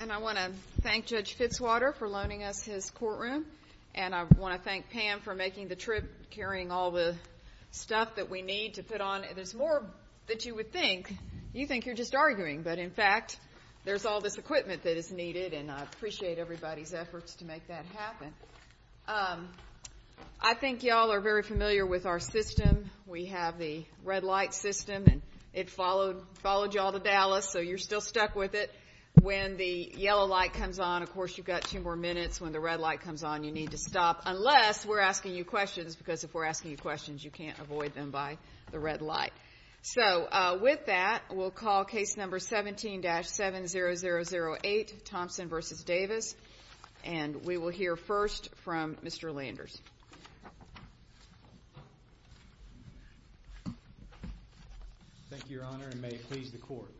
And I want to thank Judge Fitzwater for loaning us his courtroom, and I want to thank Pam for making the trip, carrying all the stuff that we need to put on. There's more that you would think. You think you're just arguing, but in fact, there's all this equipment that is needed, and I appreciate everybody's efforts to make that happen. I think y'all are very familiar with our system. We have the red light system, and it followed y'all to Dallas, so you're still stuck with it. When the yellow light comes on, of course, you've got two more minutes. When the red light comes on, you need to stop, unless we're asking you questions, because if we're asking you questions, you can't avoid them by the red light. So with that, we'll call case number 17-70008, Thompson v. Davis, and we will hear first from Mr. Landers. Thank you, Your Honor, and may it please the court.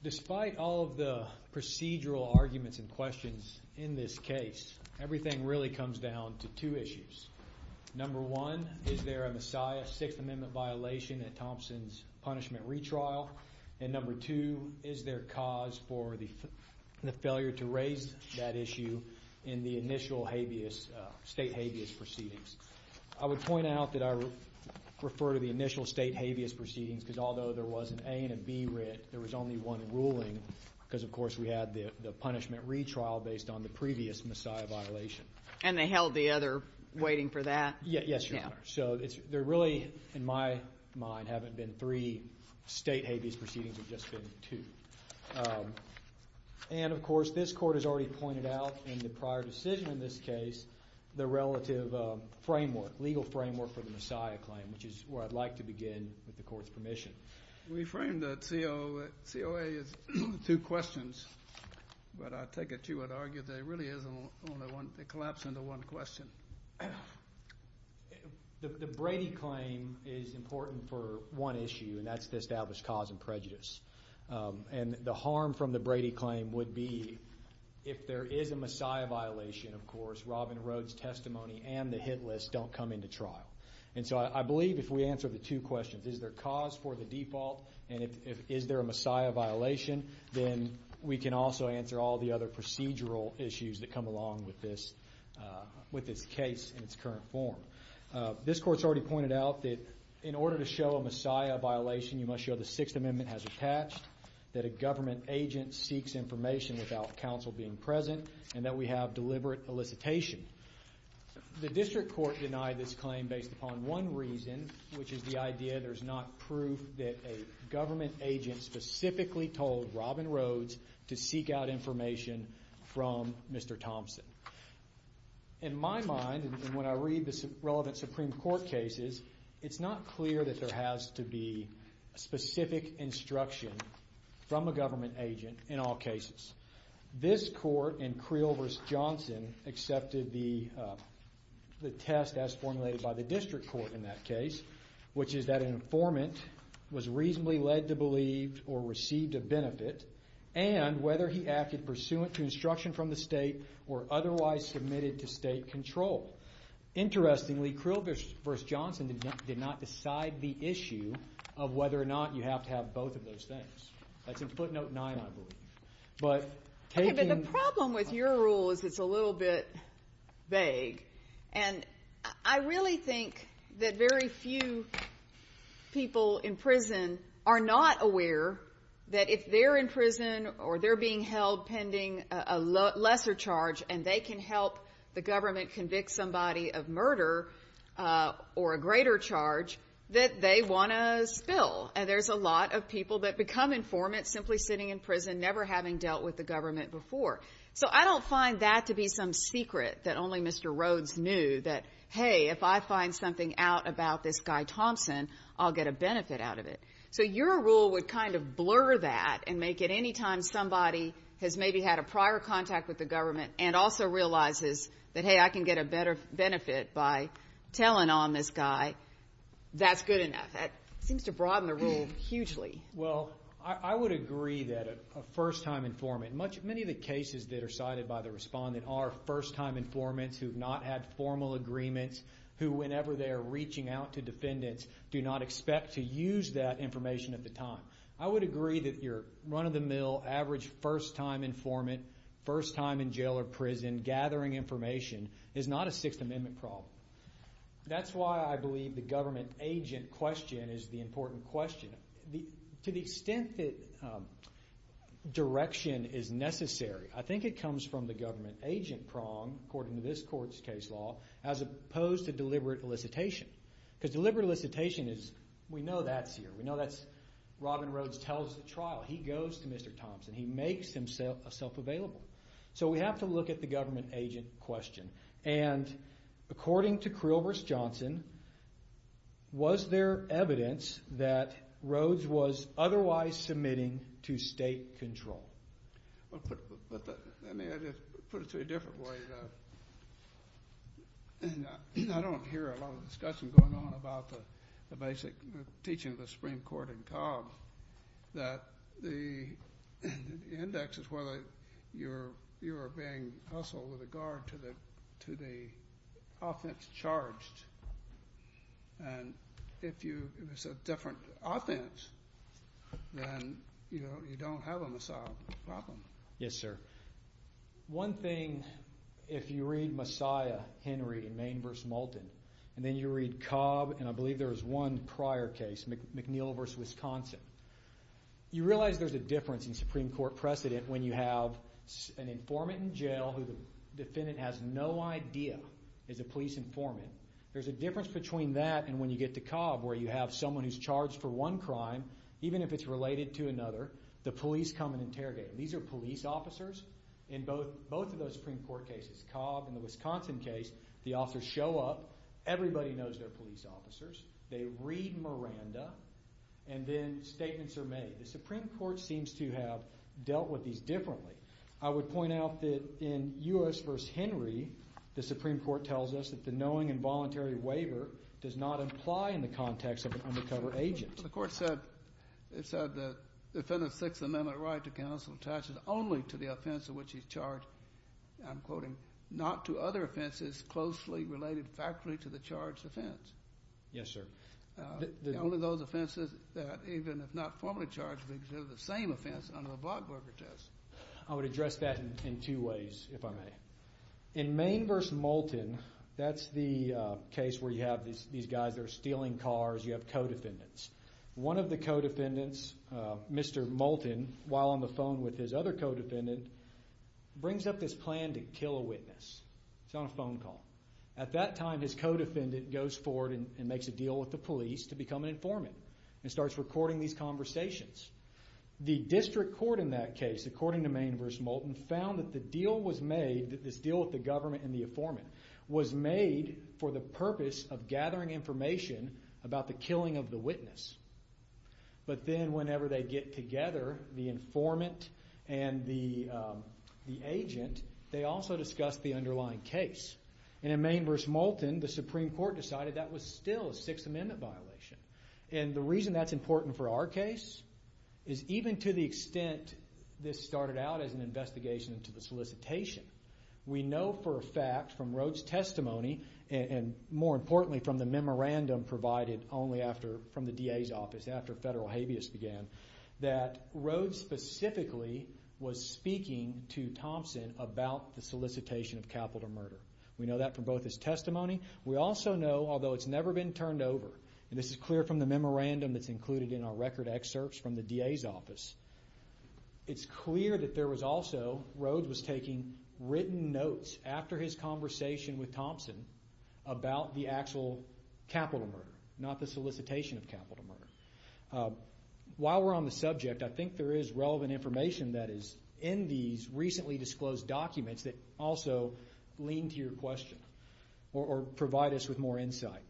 Despite all of the procedural arguments and questions in this case, everything really comes down to two issues. Number one, is there a Messiah Sixth Amendment violation at Thompson's punishment retrial? And number two, is there a cause for the failure to raise that issue in the initial habeas, state habeas proceedings? I would point out that I refer to the initial state habeas proceedings, because although there was an A and a B writ, there was only one ruling, because, of course, we had the punishment retrial based on the previous Messiah violation. And they held the other waiting for that? Yes, Your Honor. So there really, in my mind, haven't been three state habeas proceedings. There have just been two. And, of course, this court has already pointed out in the prior decision in this case, the relative framework, legal framework for the Messiah claim, which is where I'd like to begin with the court's permission. We framed the COA as two questions, but I take it you had argued there really is only one, it collapsed into one question. The Brady claim is important for one issue, and that's to establish cause and prejudice. And the harm from the Brady claim would be if there is a Messiah violation, of course, Robin Rhodes' testimony and the Hit List don't come into trial. And so I believe if we answer the two questions, is there cause for the default, and is there a Messiah violation, then we can also answer all the other procedural issues that come along with this case in its current form. This court's already pointed out that in order to show a Messiah violation, you must show the Sixth Amendment has attached, that a government agent seeks information without counsel being present, and that we have deliberate elicitation. The district court denied this claim based upon one reason, which is the idea there's not proof that a government agent specifically told Robin Rhodes to seek out information from Mr. Thompson. In my mind, and when I read the relevant Supreme Court cases, it's not clear that there has to be specific instruction from a government agent in all cases. This court in Creel v. Johnson accepted the test as formulated by the district court in that case, which is that an informant was reasonably led to believe or received a benefit, and whether he acted pursuant to instruction from the state or otherwise submitted to state control. Interestingly, Creel v. Johnson did not decide the issue of whether or not you have to have both of those things. That's in footnote nine, I believe. But taking... Okay, but the problem with your rule is it's a little bit vague, and I really think that very few people in prison are not aware that if they're in prison or they're being held pending a lesser charge and they can help the government convict somebody of murder or a greater charge, that they want to spill. And there's a lot of people that become informants simply sitting in prison, never having dealt with the government before. So I don't find that to be some secret that only Mr. Rhodes knew, that, hey, if I find something out about this guy Thompson, I'll get a benefit out of it. So your rule would kind of blur that and make it any time somebody has maybe had a prior contact with the government and also realizes that, hey, I can get a better benefit by telling on this guy, that's good enough. That seems to broaden the rule hugely. Well, I would agree that a first-time informant... Many of the cases that are cited by the respondent are first-time informants who have not had formal agreements, who whenever they are reaching out to defendants do not expect to use that information at the time. I would agree that your run-of-the-mill, average first-time informant, first-time in jail or prison gathering information is not a Sixth Amendment problem. That's why I believe the government agent question is the important question. To the extent that direction is necessary, I think it comes from the government agent prong, according to this court's case law, as opposed to deliberate elicitation. Because deliberate elicitation is, we know that's here, we know that's... Robin Rhodes tells the trial, he goes to Mr. Thompson, he makes himself available. So we have to look at the government agent question. And according to Krilvers-Johnson, was there evidence that Rhodes was otherwise submitting to state control? I mean, I just put it to a different way. I don't hear a lot of discussion going on about the basic teaching of the Supreme Court in Cobb, that the index is whether you are being hustled with regard to the offense charged. And if it's a different offense, then you don't have a Messiah problem. Yes, sir. One thing, if you read Messiah, Henry, Maine v. Moulton, and then you read Cobb, and I believe there was one prior case, McNeil v. Wisconsin, you realize there's a difference in Supreme Court precedent when you have an informant in jail who the defendant has no idea is a police informant. There's a difference between that and when you get to Cobb, where you have someone who's charged for one crime, even if it's related to another, the police come and interrogate. These are police officers in both of those Supreme Court cases, Cobb and the Wisconsin case, the officers show up, everybody knows they're police officers, they read Miranda, and then statements are made. The Supreme Court seems to have dealt with these differently. I would point out that in U.S. v. Henry, the Supreme Court tells us that the knowing and voluntary waiver does not apply in the context of an undercover agent. The Court said the defendant's Sixth Amendment right to counsel attaches only to the offense of which he's charged, I'm quoting, not to other offenses closely related factually to the charged offense. Yes, sir. Only those offenses that even if not formally charged, they're considered the same offense under the Blockburger test. I would address that in two ways, if I may. In Maine v. Moulton, that's the case where you have these guys that are stealing cars, you have co-defendants. One of the co-defendants, Mr. Moulton, while on the phone with his other co-defendant, brings up this plan to kill a witness. It's on a phone call. At that time, his co-defendant goes forward and makes a deal with the police to become an informant and starts recording these conversations. The district court in that case, according to Maine v. Moulton, found that the deal was made, this deal with the government and the informant, was made for the purpose of gathering information about the killing of the witness. But then whenever they get together, the informant and the agent, they also discuss the underlying case. And in Maine v. Moulton, the Supreme Court decided that was still a Sixth Amendment violation. And the reason that's important for our case is even to the extent this started out as an investigation into the solicitation, we know for a fact from Rhodes' testimony and more importantly from the memorandum provided only after, from the DA's office, after federal habeas began, that Rhodes specifically was speaking to Thompson about the solicitation of capital murder. We know that from both his testimony. We also know, although it's never been turned over, and this is clear from the memorandum that's included in our record excerpts from the DA's office, it's clear that there was also, Rhodes was taking written notes after his conversation with Thompson about the actual capital murder, not the solicitation of capital murder. While we're on the subject, I think there is relevant information that is in these recently disclosed documents that also lean to your question or provide us with more insight.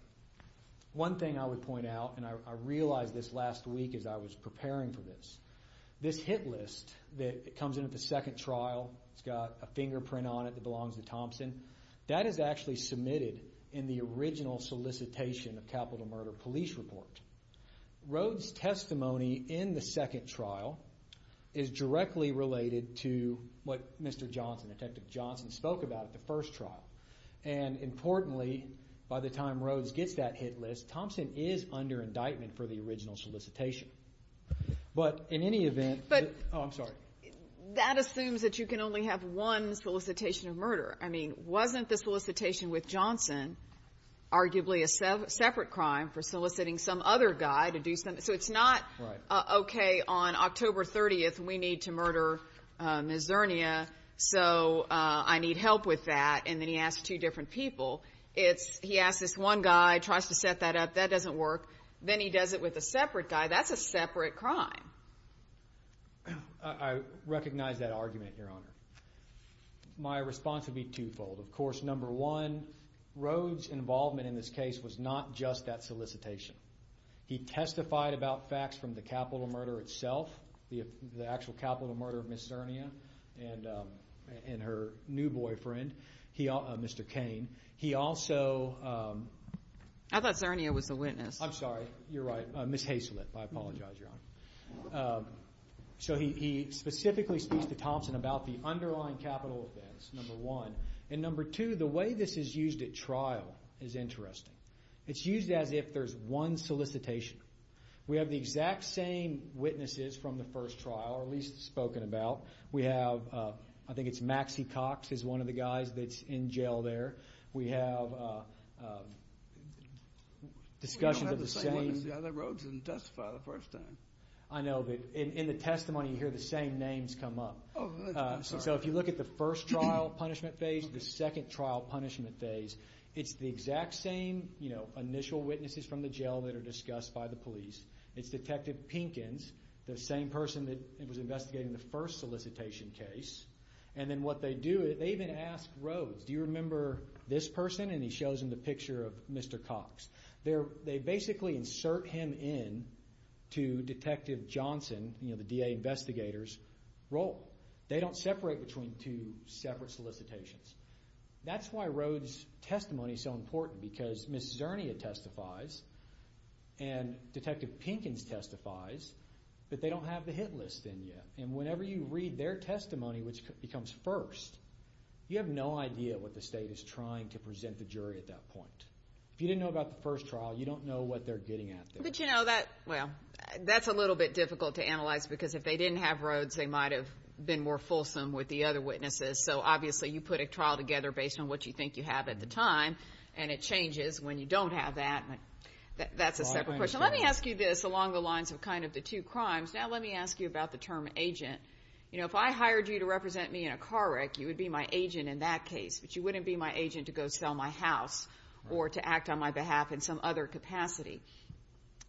One thing I would point out, and I realized this last week as I was preparing for this, this hit list that comes in at the second trial, it's got a fingerprint on it that belongs to Thompson, that is actually submitted in the original solicitation of capital murder police report. Rhodes' testimony in the second trial is directly related to what Mr. Johnson, Detective Johnson, spoke about at the first trial. Importantly, by the time Rhodes gets that hit list, Thompson is under indictment for the original solicitation. But in any event, oh, I'm sorry. That assumes that you can only have one solicitation of murder. I mean, wasn't the solicitation with Johnson arguably a separate crime for soliciting some other guy to do something? So it's not, okay, on October 30th, we need to murder Ms. Zernia, so I need help with that, and then he asks two different people. He asks this one guy, tries to set that up, that doesn't work. Then he does it with a separate guy. That's a separate crime. I recognize that argument, Your Honor. My response would be twofold. Of course, number one, Rhodes' involvement in this case was not just that solicitation. He testified about facts from the capital murder itself, the actual capital murder of Ms. Zernia and her new boyfriend, Mr. Cain. He also... I thought Zernia was the witness. I'm sorry. You're right. Ms. Haislip, I apologize, Your Honor. So he specifically speaks to Thompson about the underlying capital offense, number one. And number two, the way this is used at trial is interesting. It's used as if there's one solicitation. We have the exact same witnesses from the first trial, or at least spoken about. We have, I think it's Maxie Cox is one of the guys that's in jail there. We have discussions of the same... We don't have the same one as the other Rhodes and testified the first time. I know, but in the testimony, you hear the same names come up. Oh, that's right. I'm sorry. So if you look at the first trial punishment phase, the second trial punishment phase, it's the exact same initial witnesses from the jail that are discussed by the police. It's Detective Pinkins, the same person that was investigating the first solicitation case. And then what they do, they even ask Rhodes, do you remember this person? And he shows him the picture of Mr. Cox. They basically insert him in to Detective Johnson, the DA investigators, role. They don't separate between two separate solicitations. That's why Rhodes' testimony is so important, because Ms. Zernia testifies and Detective Pinkins testifies, but they don't have the hit list in yet. And whenever you read their testimony, which becomes first, you have no idea what the state is trying to present the jury at that point. If you didn't know about the first trial, you don't know what they're getting at there. But you know that, well, that's a little bit difficult to analyze because if they didn't have Rhodes, they might have been more fulsome with the other witnesses. So obviously you put a trial together based on what you think you have at the time, and it changes when you don't have that. That's a separate question. Let me ask you this along the lines of kind of the two crimes. Now let me ask you about the term agent. You know, if I hired you to represent me in a car wreck, you would be my agent in that case, but you wouldn't be my agent to go sell my house or to act on my behalf in some other capacity.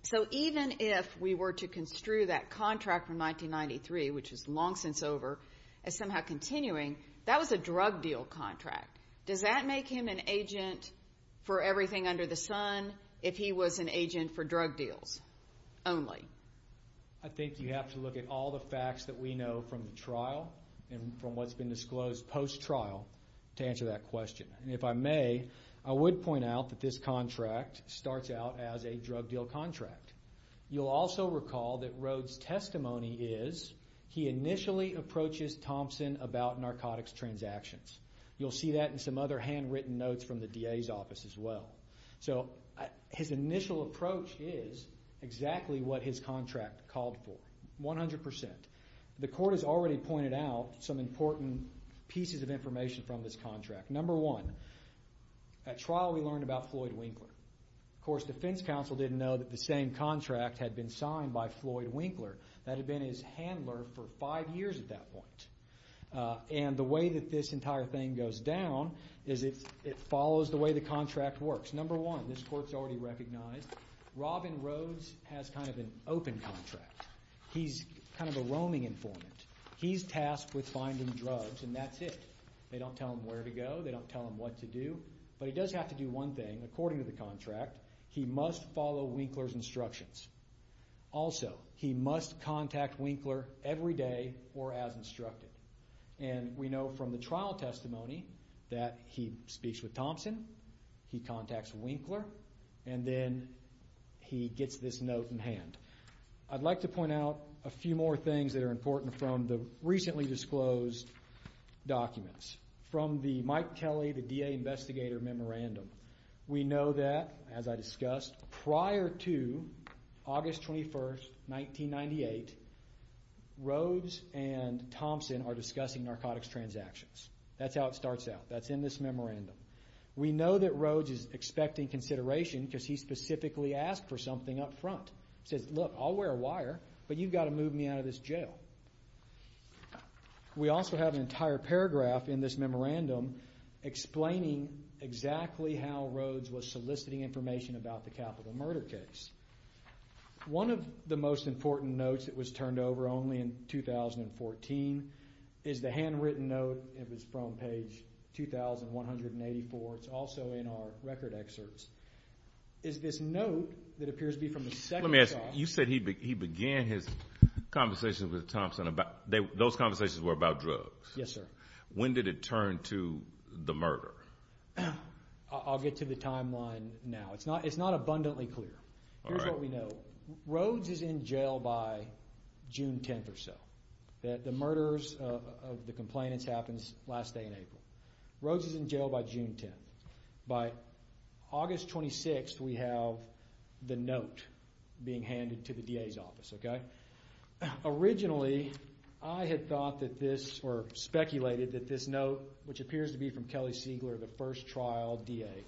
So even if we were to construe that contract from 1993, which was long since over, as somehow continuing, that was a drug deal contract. Does that make him an agent for everything under the sun if he was an agent for drug deals only? I think you have to look at all the facts that we know from the trial and from what's been disclosed post-trial to answer that question. And if I may, I would point out that this contract starts out as a drug deal contract. You'll also recall that Rhodes' testimony is he initially approaches Thompson about narcotics transactions. You'll see that in some other handwritten notes from the DA's office as well. So his initial approach is exactly what his contract called for, 100%. The court has already pointed out some important pieces of information from this contract. Number one, at trial we learned about Floyd Winkler. Of course, defense counsel didn't know that the same contract had been signed by Floyd Winkler. That had been his handler for five years at that point. And the way that this entire thing goes down is it follows the way the contract works. Number one, this court's already recognized, Robin Rhodes has kind of an open contract. He's kind of a roaming informant. He's tasked with finding drugs and that's it. They don't tell him where to go. They don't tell him what to do. But he must follow Winkler's instructions. Also, he must contact Winkler every day or as instructed. And we know from the trial testimony that he speaks with Thompson, he contacts Winkler, and then he gets this note in hand. I'd like to point out a few more things that are important from the recently disclosed documents. From the Mike Kelly, the DA investigator memorandum. We know that, as I discussed, prior to August 21st, 1998, Rhodes and Thompson are discussing narcotics transactions. That's how it starts out. That's in this memorandum. We know that Rhodes is expecting consideration because he specifically asked for something up front. He says, look, I'll wear a wire but you've got to move me out of this jail. We also have an entire paragraph in this memorandum explaining exactly how Rhodes was soliciting information about the capital murder case. One of the most important notes that was turned over only in 2014 is the handwritten note. It was from page 2,184. It's also in our record excerpts. It's this note that appears to be from the second copy. You said he began his conversation with Thompson about, those conversations were about drugs. Yes, sir. When did it turn to the murder? I'll get to the timeline now. It's not abundantly clear. Here's what we know. Rhodes is in jail by June 10th or so. The murder of the complainants happens last day in April. Rhodes is in jail by June 10th. By August 26th, we have the note being handed to the DA's office. Originally, I had thought that this, or speculated that this note, which appears to be from Kelly Siegler, the first trial DA.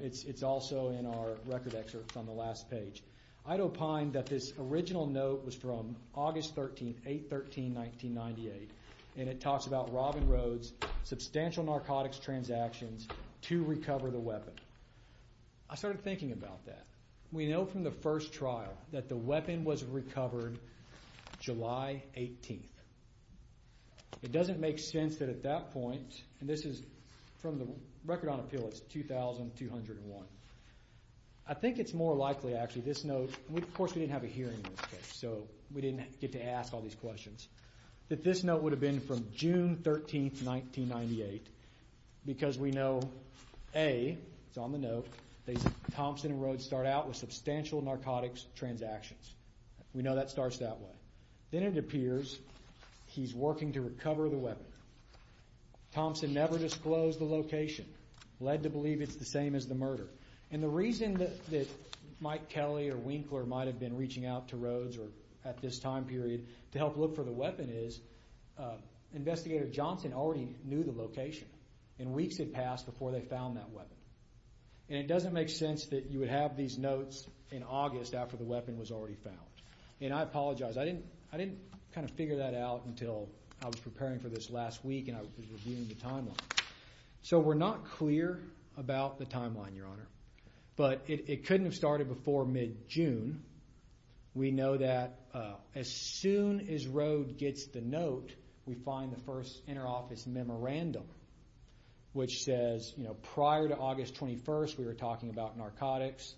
It's also in our record excerpts on the last page. I'd opine that this original note was from August 13th, 8-13-1998. It talks about Robin Rhodes substantial narcotics transactions to recover the weapon. I started thinking about that. We know from the first trial that the weapon was recovered July 18th. It doesn't make sense that at that point, and this is from the record on appeal, it's 2201. I think it's more likely actually this note, and of course we didn't have a hearing in this case, so we didn't get to ask all these questions, that this note would have been from June 13th, 1998 because we know, A, it's on the note, that Thompson and Rhodes start out with substantial narcotics transactions. We know that starts that way. Then it appears he's working to recover the weapon. Thompson never disclosed the location, led to believe it's the same as the murder. The reason that Mike Kelly or Winkler might have been reaching out to Rhodes at this time period to help look for the weapon is Investigator Johnson already knew the location. Weeks had passed before they found that weapon. It doesn't make sense that you would have these notes in August after the weapon was already found. I apologize. I didn't figure that out until I was preparing for this last week and I was reviewing the timeline. We're not clear about the timeline, Your Honor, but it couldn't have started before mid-June. We know that as soon as Rhodes gets the note, we find the first inter-office memo random, which says prior to August 21st, we were talking about narcotics.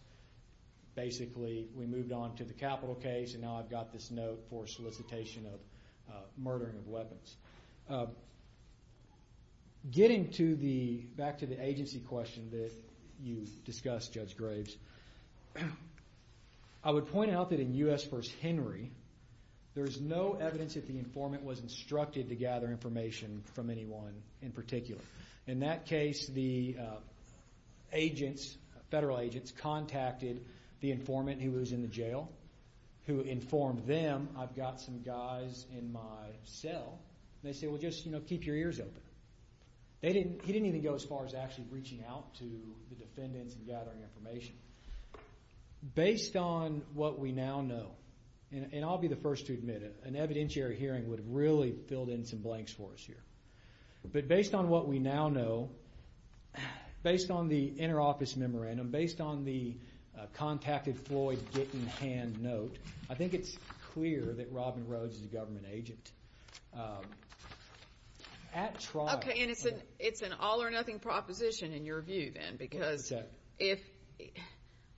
Basically, we moved on to the capital case and now I've got this note for solicitation of murdering of weapons. Getting back to the agency question that you discussed, Judge Graves, I would point out that in U.S. v. Henry, there's no evidence that the informant was instructed to gather information from anyone in particular. In that case, the federal agents contacted the informant who was in the jail, who informed them, I've got some guys in my cell, and they said, well, just keep your ears open. He didn't even go as far as actually reaching out to the defendants and gathering information. Based on what we now know, and I'll be the one to send some blanks for us here, but based on what we now know, based on the inter-office memorandum, based on the contacted Floyd Gittin hand note, I think it's clear that Robin Rhodes is a government agent. At trial... Okay, and it's an all or nothing proposition in your view, then, because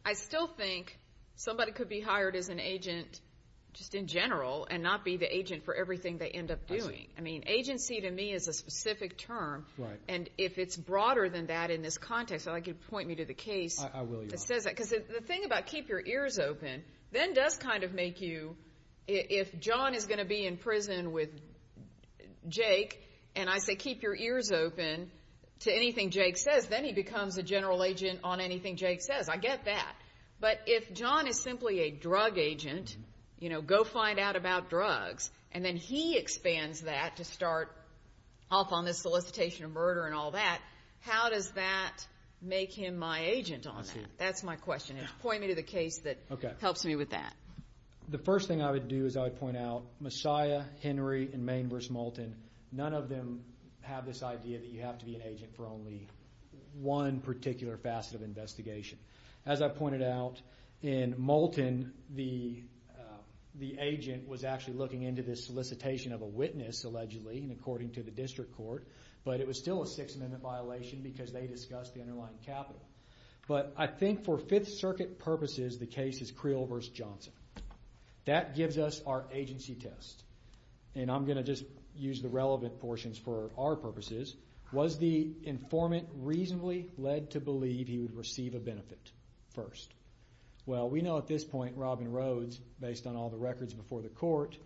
I still think somebody could be hired as an agent just in general and not be the agent for everything they end up doing. I mean, agency to me is a specific term, and if it's broader than that in this context, I'd like you to point me to the case that says that, because the thing about keep your ears open, then does kind of make you, if John is going to be in prison with Jake, and I say keep your ears open to anything Jake says, then he becomes a general agent on anything Jake says. I get that. But if John is simply a drug agent, you know, go find out about drugs, and then he expands that to start off on this solicitation of murder and all that, how does that make him my agent on that? That's my question. Just point me to the case that helps me with that. The first thing I would do is I would point out, Messiah, Henry, and Main versus Moulton, none of them have this idea that you have to be an agent for only one particular facet of investigation. As I pointed out, in Moulton, the agent was actually looking into this solicitation of a witness, allegedly, and according to the district court, but it was still a Sixth Amendment violation because they discussed the underlying capital. But I think for Fifth Circuit purposes, the case is Creel versus Johnson. That gives us our agency test, and I'm going to just use the relevant portions for our purposes. Was the informant reasonably led to believe he would receive a benefit first? Well, we know at this point, Robin Rhodes, based on all the records before the court,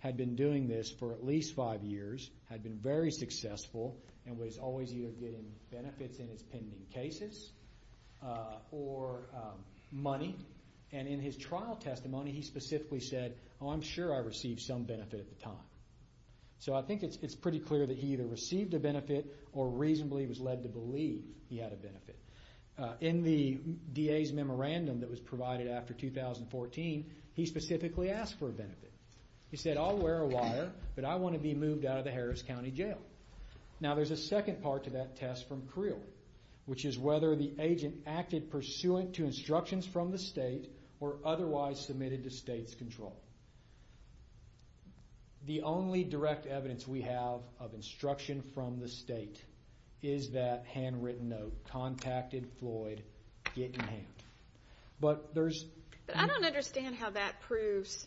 had been doing this for at least five years, had been very successful, and was always either getting benefits in his pending cases or money. And in his trial testimony, he specifically said, oh, I'm sure I received some benefit at the time. So I think it's pretty clear that he either received a benefit or reasonably was led to believe he had a benefit. In the DA's memorandum that was provided after 2014, he specifically asked for a benefit. He said, I'll wear a wire, but I want to be moved out of the Harris County Jail. Now there's a second part to that test from Creel, which is whether the agent acted pursuant to instructions from the state or otherwise submitted to state's control. The only direct evidence we have of instruction from the state is that the handwritten note, contacted Floyd, get in hand. But there's... But I don't understand how that proves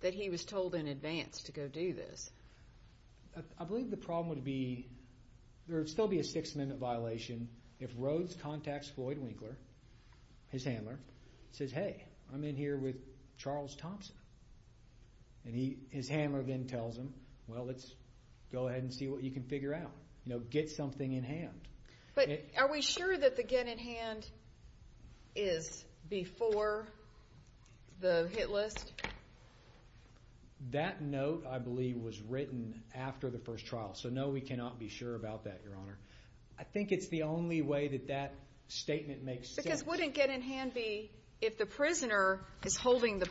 that he was told in advance to go do this. I believe the problem would be, there would still be a six minute violation if Rhodes contacts Floyd Winkler, his handler, says, hey, I'm in here with Charles Thompson. And his handler then tells him, well, let's go ahead and see what you can figure out. You know, get something in hand. But are we sure that the get in hand is before the hit list? That note, I believe, was written after the first trial. So no, we cannot be sure about that, Your Honor. I think it's the only way that that statement makes sense. Because wouldn't get in hand be, if the prisoner is the construction, the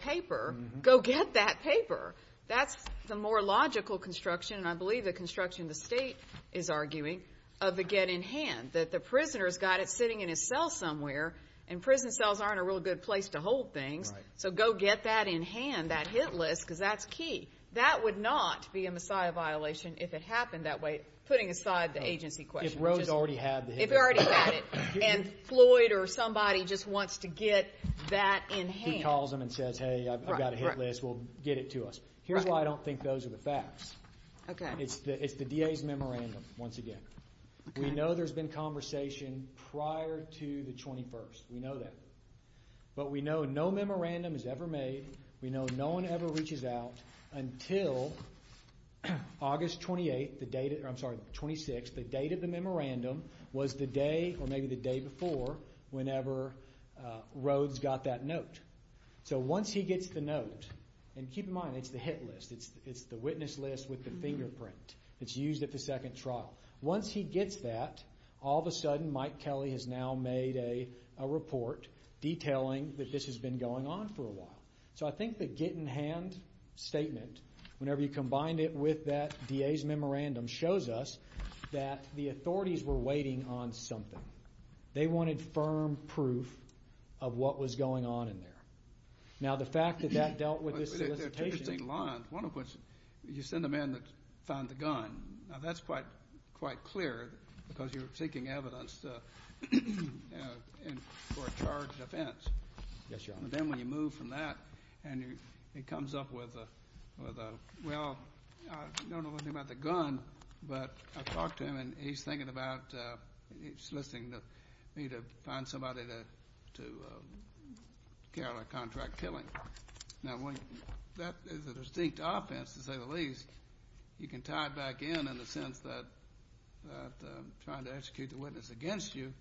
state is arguing, of the get in hand. That the prisoner's got it sitting in his cell somewhere, and prison cells aren't a real good place to hold things. So go get that in hand, that hit list, because that's key. That would not be a messiah violation if it happened that way, putting aside the agency question. If Rhodes already had the hit list. If he already had it. And Floyd or somebody just wants to get that in hand. He calls him and says, hey, I've got a hit list. Well, get it to us. Here's why I don't think those are the facts. Okay. It's the DA's memorandum, once again. We know there's been conversation prior to the 21st. We know that. But we know no memorandum is ever made. We know no one ever reaches out until August 28th, the date, I'm sorry, 26th, the date of the memorandum was the day, or maybe the day before, whenever Rhodes got that note. So once he gets the note, and keep in mind, it's the hit list. It's the witness list with the fingerprint. It's used at the second trial. Once he gets that, all of a sudden, Mike Kelly has now made a report detailing that this has been going on for a while. So I think the get in hand statement, whenever you combine it with that DA's memorandum, shows us that the authorities were waiting on something. They wanted firm proof of what was going on in there. Now the fact that that dealt with this solicitation... There are two interesting lines. One of which, you send a man to find the gun. Now that's quite clear, because you're seeking evidence for a charged offense. Yes, Your Honor. And then when you move from that, and he comes up with a, well, I don't know anything about the gun, but I talked to him, and he's thinking about, he's soliciting me to find somebody to carry out a contract killing. Now when that is a distinct offense, to say the least, you can tie it back in, in the sense that trying to execute the witness against you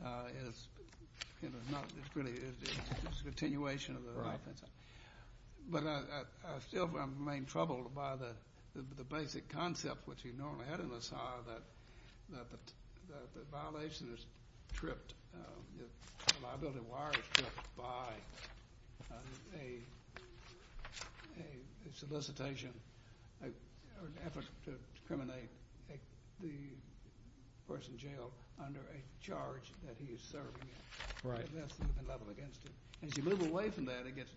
is really just a continuation of the offense. But I still remain troubled by the basic concept which you normally had in LaSalle, that the violation is tripped, the liability wire is tripped by a solicitation, or an effort to discriminate the person jailed under a charge that he is serving. Right. And that's the level against him. As you move away from that, it gets,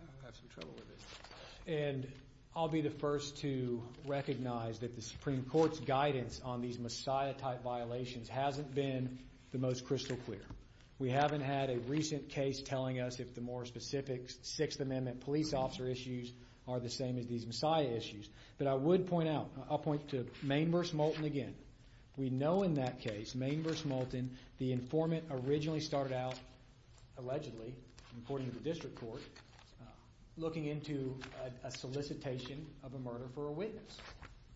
I have some trouble with it. And I'll be the first to recognize that the Supreme Court's guidance on these Messiah type violations hasn't been the most crystal clear. We haven't had a recent case telling us if the more specific Sixth Amendment police officer issues are the same as these Messiah issues. But I would point out, I'll point to Main vs. Moulton again. We know in that case, Main vs. Moulton, the informant originally started out, allegedly, according to the Supreme Court, a solicitation of a murder for a witness.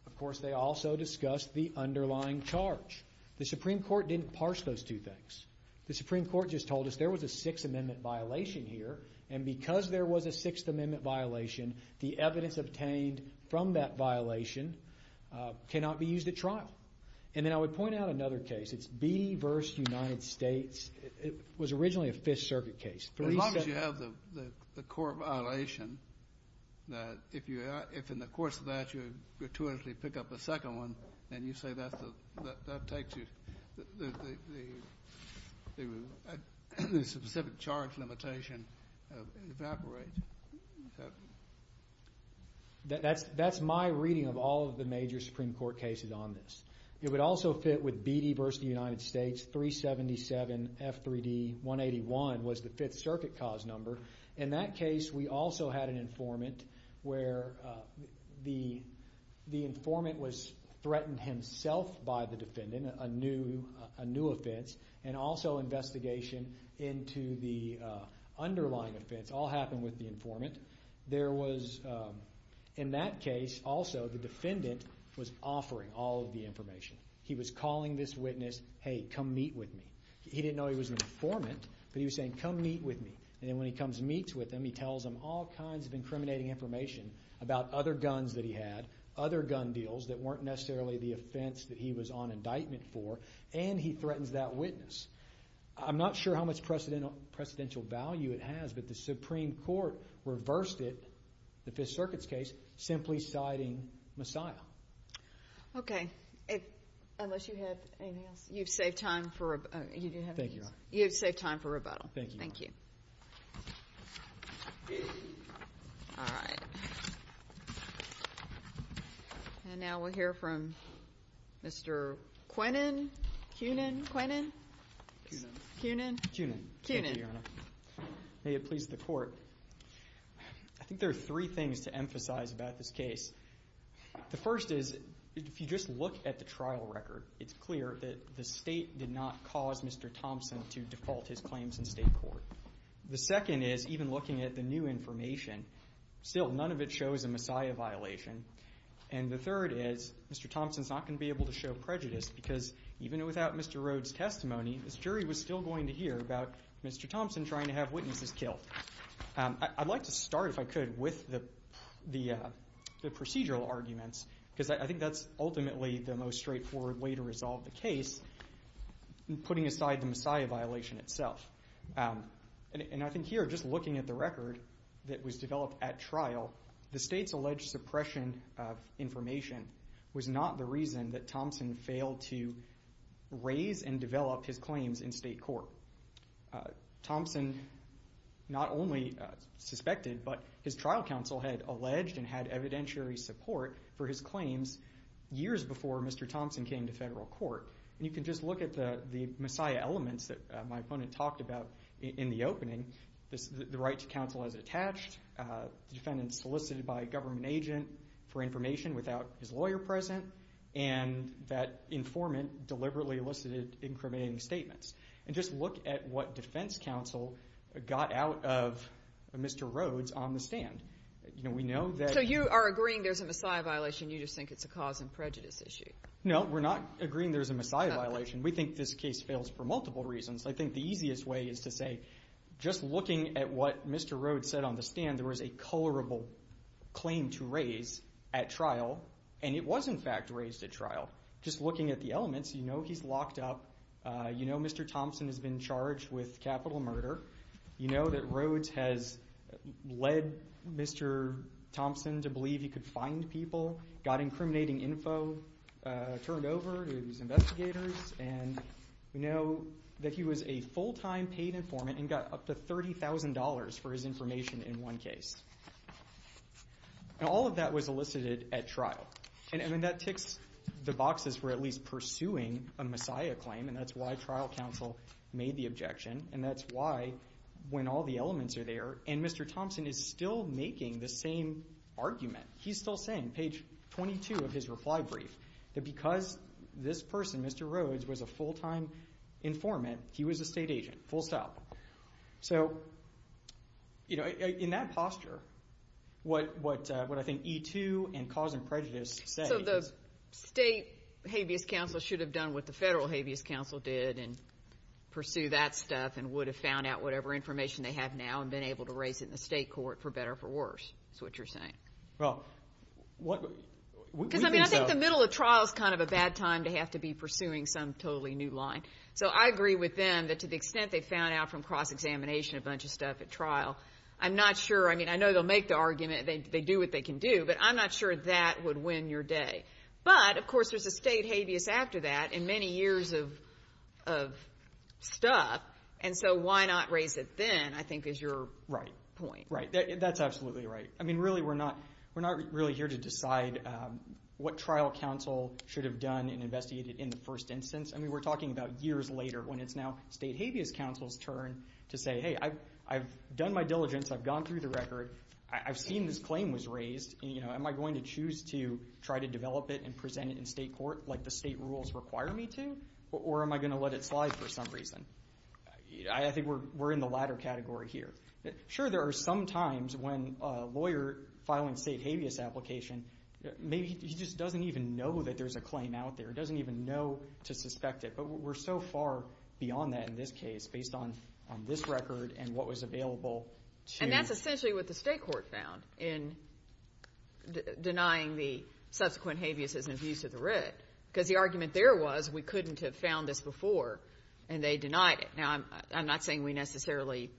Of course, they also discussed the underlying charge. The Supreme Court didn't parse those two things. The Supreme Court just told us there was a Sixth Amendment violation here, and because there was a Sixth Amendment violation, the evidence obtained from that violation cannot be used at trial. And then I would point out another case. It's Beattie vs. United States. It was originally a Fifth Circuit case. As long as you have the court violation, if in the course of that you gratuitously pick up a second one and you say that takes you, the specific charge limitation evaporates. That's my reading of all of the major Supreme Court cases on this. It would also fit with the Sixth Circuit cause number. In that case, we also had an informant where the informant was threatened himself by the defendant, a new offense, and also investigation into the underlying offense. It all happened with the informant. In that case, also, the defendant was offering all of the information. He was calling this witness, hey, come meet with me. He didn't know he was an informant, but he was saying come meet with me. And then when he comes and meets with him, he tells him all kinds of incriminating information about other guns that he had, other gun deals that weren't necessarily the offense that he was on indictment for, and he threatens that witness. I'm not sure how much precedential value it has, but the Supreme Court reversed it, the Fifth Circuit's case, simply citing Messiah. Okay. Unless you have anything else? You've saved time for rebuttal. Thank you, Your Honor. You've saved time for rebuttal. Thank you, Your Honor. Thank you. All right. And now we'll hear from Mr. Quenin. Quenin? Quenin. Quenin. Quenin. Quenin. Thank you, Your Honor. May it please the Court. I think there are three things to emphasize about this case. The first is, if you just look at the trial record, it's clear that the State did not cause Mr. Thompson to default his claims in State court. The second is, even looking at the new information, still none of it shows a Messiah violation. And the third is, Mr. Thompson's not going to be able to show prejudice because even without Mr. Rhoades' testimony, this jury was still going to hear about Mr. Thompson trying to have witnesses killed. I'd like to start, if I could, with the procedural arguments because I think that's ultimately the most straightforward way to resolve the case, putting aside the Messiah violation itself. And I think here, just looking at the record that was developed at trial, the State's alleged suppression of information was not the reason that Thompson failed to raise and develop his claims in State court. Thompson not only suspected, but his trial counsel had alleged and had evidentiary support for his claims years before Mr. Thompson came to Federal court. And you can just look at the Messiah elements that my opponent talked about in the opening, the right to counsel as attached, the defendant solicited by a government agent for information without his lawyer present, and that informant deliberately elicited incriminating statements. And just look at what defense counsel got out of Mr. Rhoades on the stand. You know, we know that... So you are agreeing there's a Messiah violation, you just think it's a cause and prejudice issue? No, we're not agreeing there's a Messiah violation. We think this case fails for multiple reasons. I think the easiest way is to say, just looking at what Mr. Rhoades said on the stand, there is a colorable claim to raise at trial, and it was in fact raised at trial. Just looking at the elements, you know he's locked up, you know Mr. Thompson has been charged with capital murder, you know that Rhoades has led Mr. Thompson to believe he could find people, got incriminating info turned over to his investigators, and we know that he was a full-time paid informant and got up to $30,000 for his information in one case. And all of that was elicited at trial. And that ticks the boxes for at least pursuing a Messiah claim, and that's why trial counsel made the objection, and that's why when all the elements are there, and Mr. Thompson is still making the same argument, he's still saying, page 22 of his reply brief, that because this person, Mr. Rhoades, was a full-time informant, he was a state agent, full stop. So, you know, in that posture, what I think E2 and Cause and Prejudice say is... So the state habeas counsel should have done what the federal habeas counsel did and pursue that stuff and would have found out whatever information they have now and been able to raise it in the state court for better or for worse, is what you're saying. Well, what... Because I think the middle of trial is kind of a bad time to have to be pursuing some totally new line. So I agree with them that to the extent they found out from cross-examination a bunch of stuff at trial, I'm not sure, I mean, I know they'll make the argument, they do what they can do, but I'm not sure that would win your day. But, of course, there's a state habeas after that and many years of stuff, and so why not raise it then, I think, is your point. Right. That's absolutely right. I mean, really, we're not really here to decide what trial counsel should have done and investigated in the first instance. I mean, we're talking about years later when it's now state habeas counsel's turn to say, hey, I've done my diligence, I've gone through the record, I've seen this claim was raised, am I going to choose to try to develop it and present it in state court like the state rules require me to, or am I going to let it slide for some reason? I think we're in the latter category here. Sure, there are some times when a lawyer filing a state habeas application, maybe he just doesn't even know that there's a claim out there, doesn't even know to suspect it, but we're so far beyond that in this case based on this record and what was available. And that's essentially what the state court found in denying the subsequent habeas as an abuse of the writ because the argument there was we couldn't have found this before, and they denied it. Now, I'm not saying we necessarily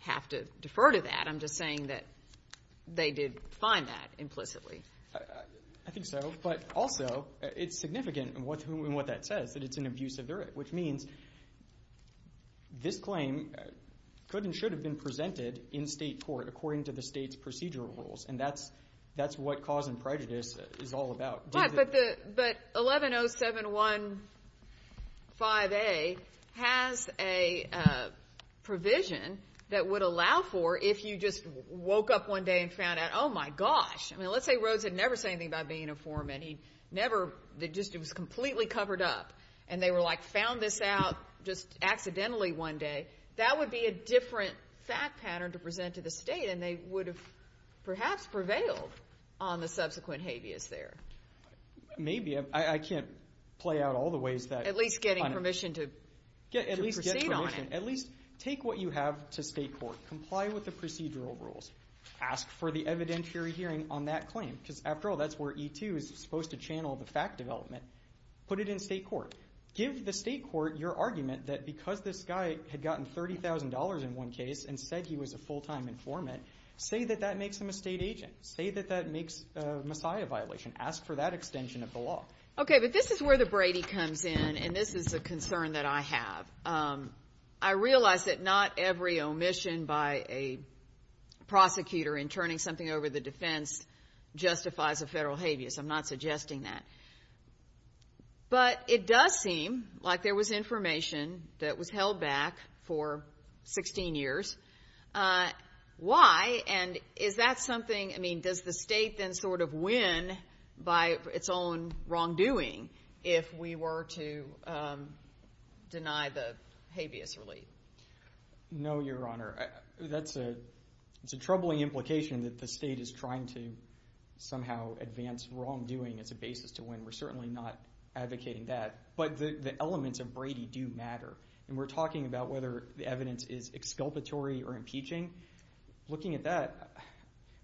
have to defer to that. I'm just saying that they did find that implicitly. I think so, but also it's significant in what that says, that it's an abuse of the writ, which means this claim could and should have been presented in state court according to the state's procedural rules, and that's what cause and prejudice is all about. But 110715A has a provision that would allow for if you just woke up one day and found out, oh, my gosh. I mean, let's say Rhodes had never said anything about being a foreman. He never just was completely covered up, and they were like found this out just accidentally one day. That would be a different fact pattern to present to the state, and they would have perhaps prevailed on the subsequent habeas there. Maybe. I can't play out all the ways that. At least getting permission to proceed on it. At least take what you have to state court. Comply with the procedural rules. Ask for the evidentiary hearing on that claim because, after all, that's where E2 is supposed to channel the fact development. Put it in state court. Give the state court your argument that because this guy had gotten $30,000 in one case and said he was a full-time informant, say that that makes him a state agent. Say that that makes a messiah violation. Ask for that extension of the law. Okay, but this is where the Brady comes in, and this is a concern that I have. I realize that not every omission by a prosecutor in turning something over the defense justifies a federal habeas. I'm not suggesting that. But it does seem like there was information that was held back for 16 years. Why? And is that something, I mean, does the state then sort of win by its own wrongdoing if we were to deny the habeas relief? No, Your Honor. That's a troubling implication that the state is trying to somehow advance wrongdoing as a basis to win. We're certainly not advocating that. But the elements of Brady do matter, and we're talking about whether the evidence is exculpatory or impeaching. Looking at that,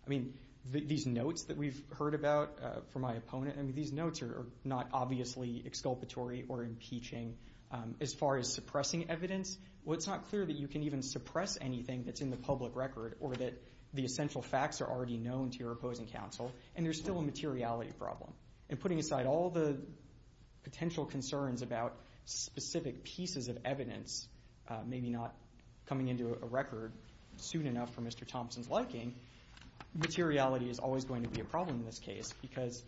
I mean, these notes that we've heard about from my opponent, I mean, these notes are not obviously exculpatory or impeaching. As far as suppressing evidence, well, it's not clear that you can even suppress anything that's in the public record or that the essential facts are already known to your opposing counsel. And there's still a materiality problem. And putting aside all the potential concerns about specific pieces of evidence maybe not coming into a record soon enough for Mr. Thompson's liking, materiality is always going to be a problem in this case because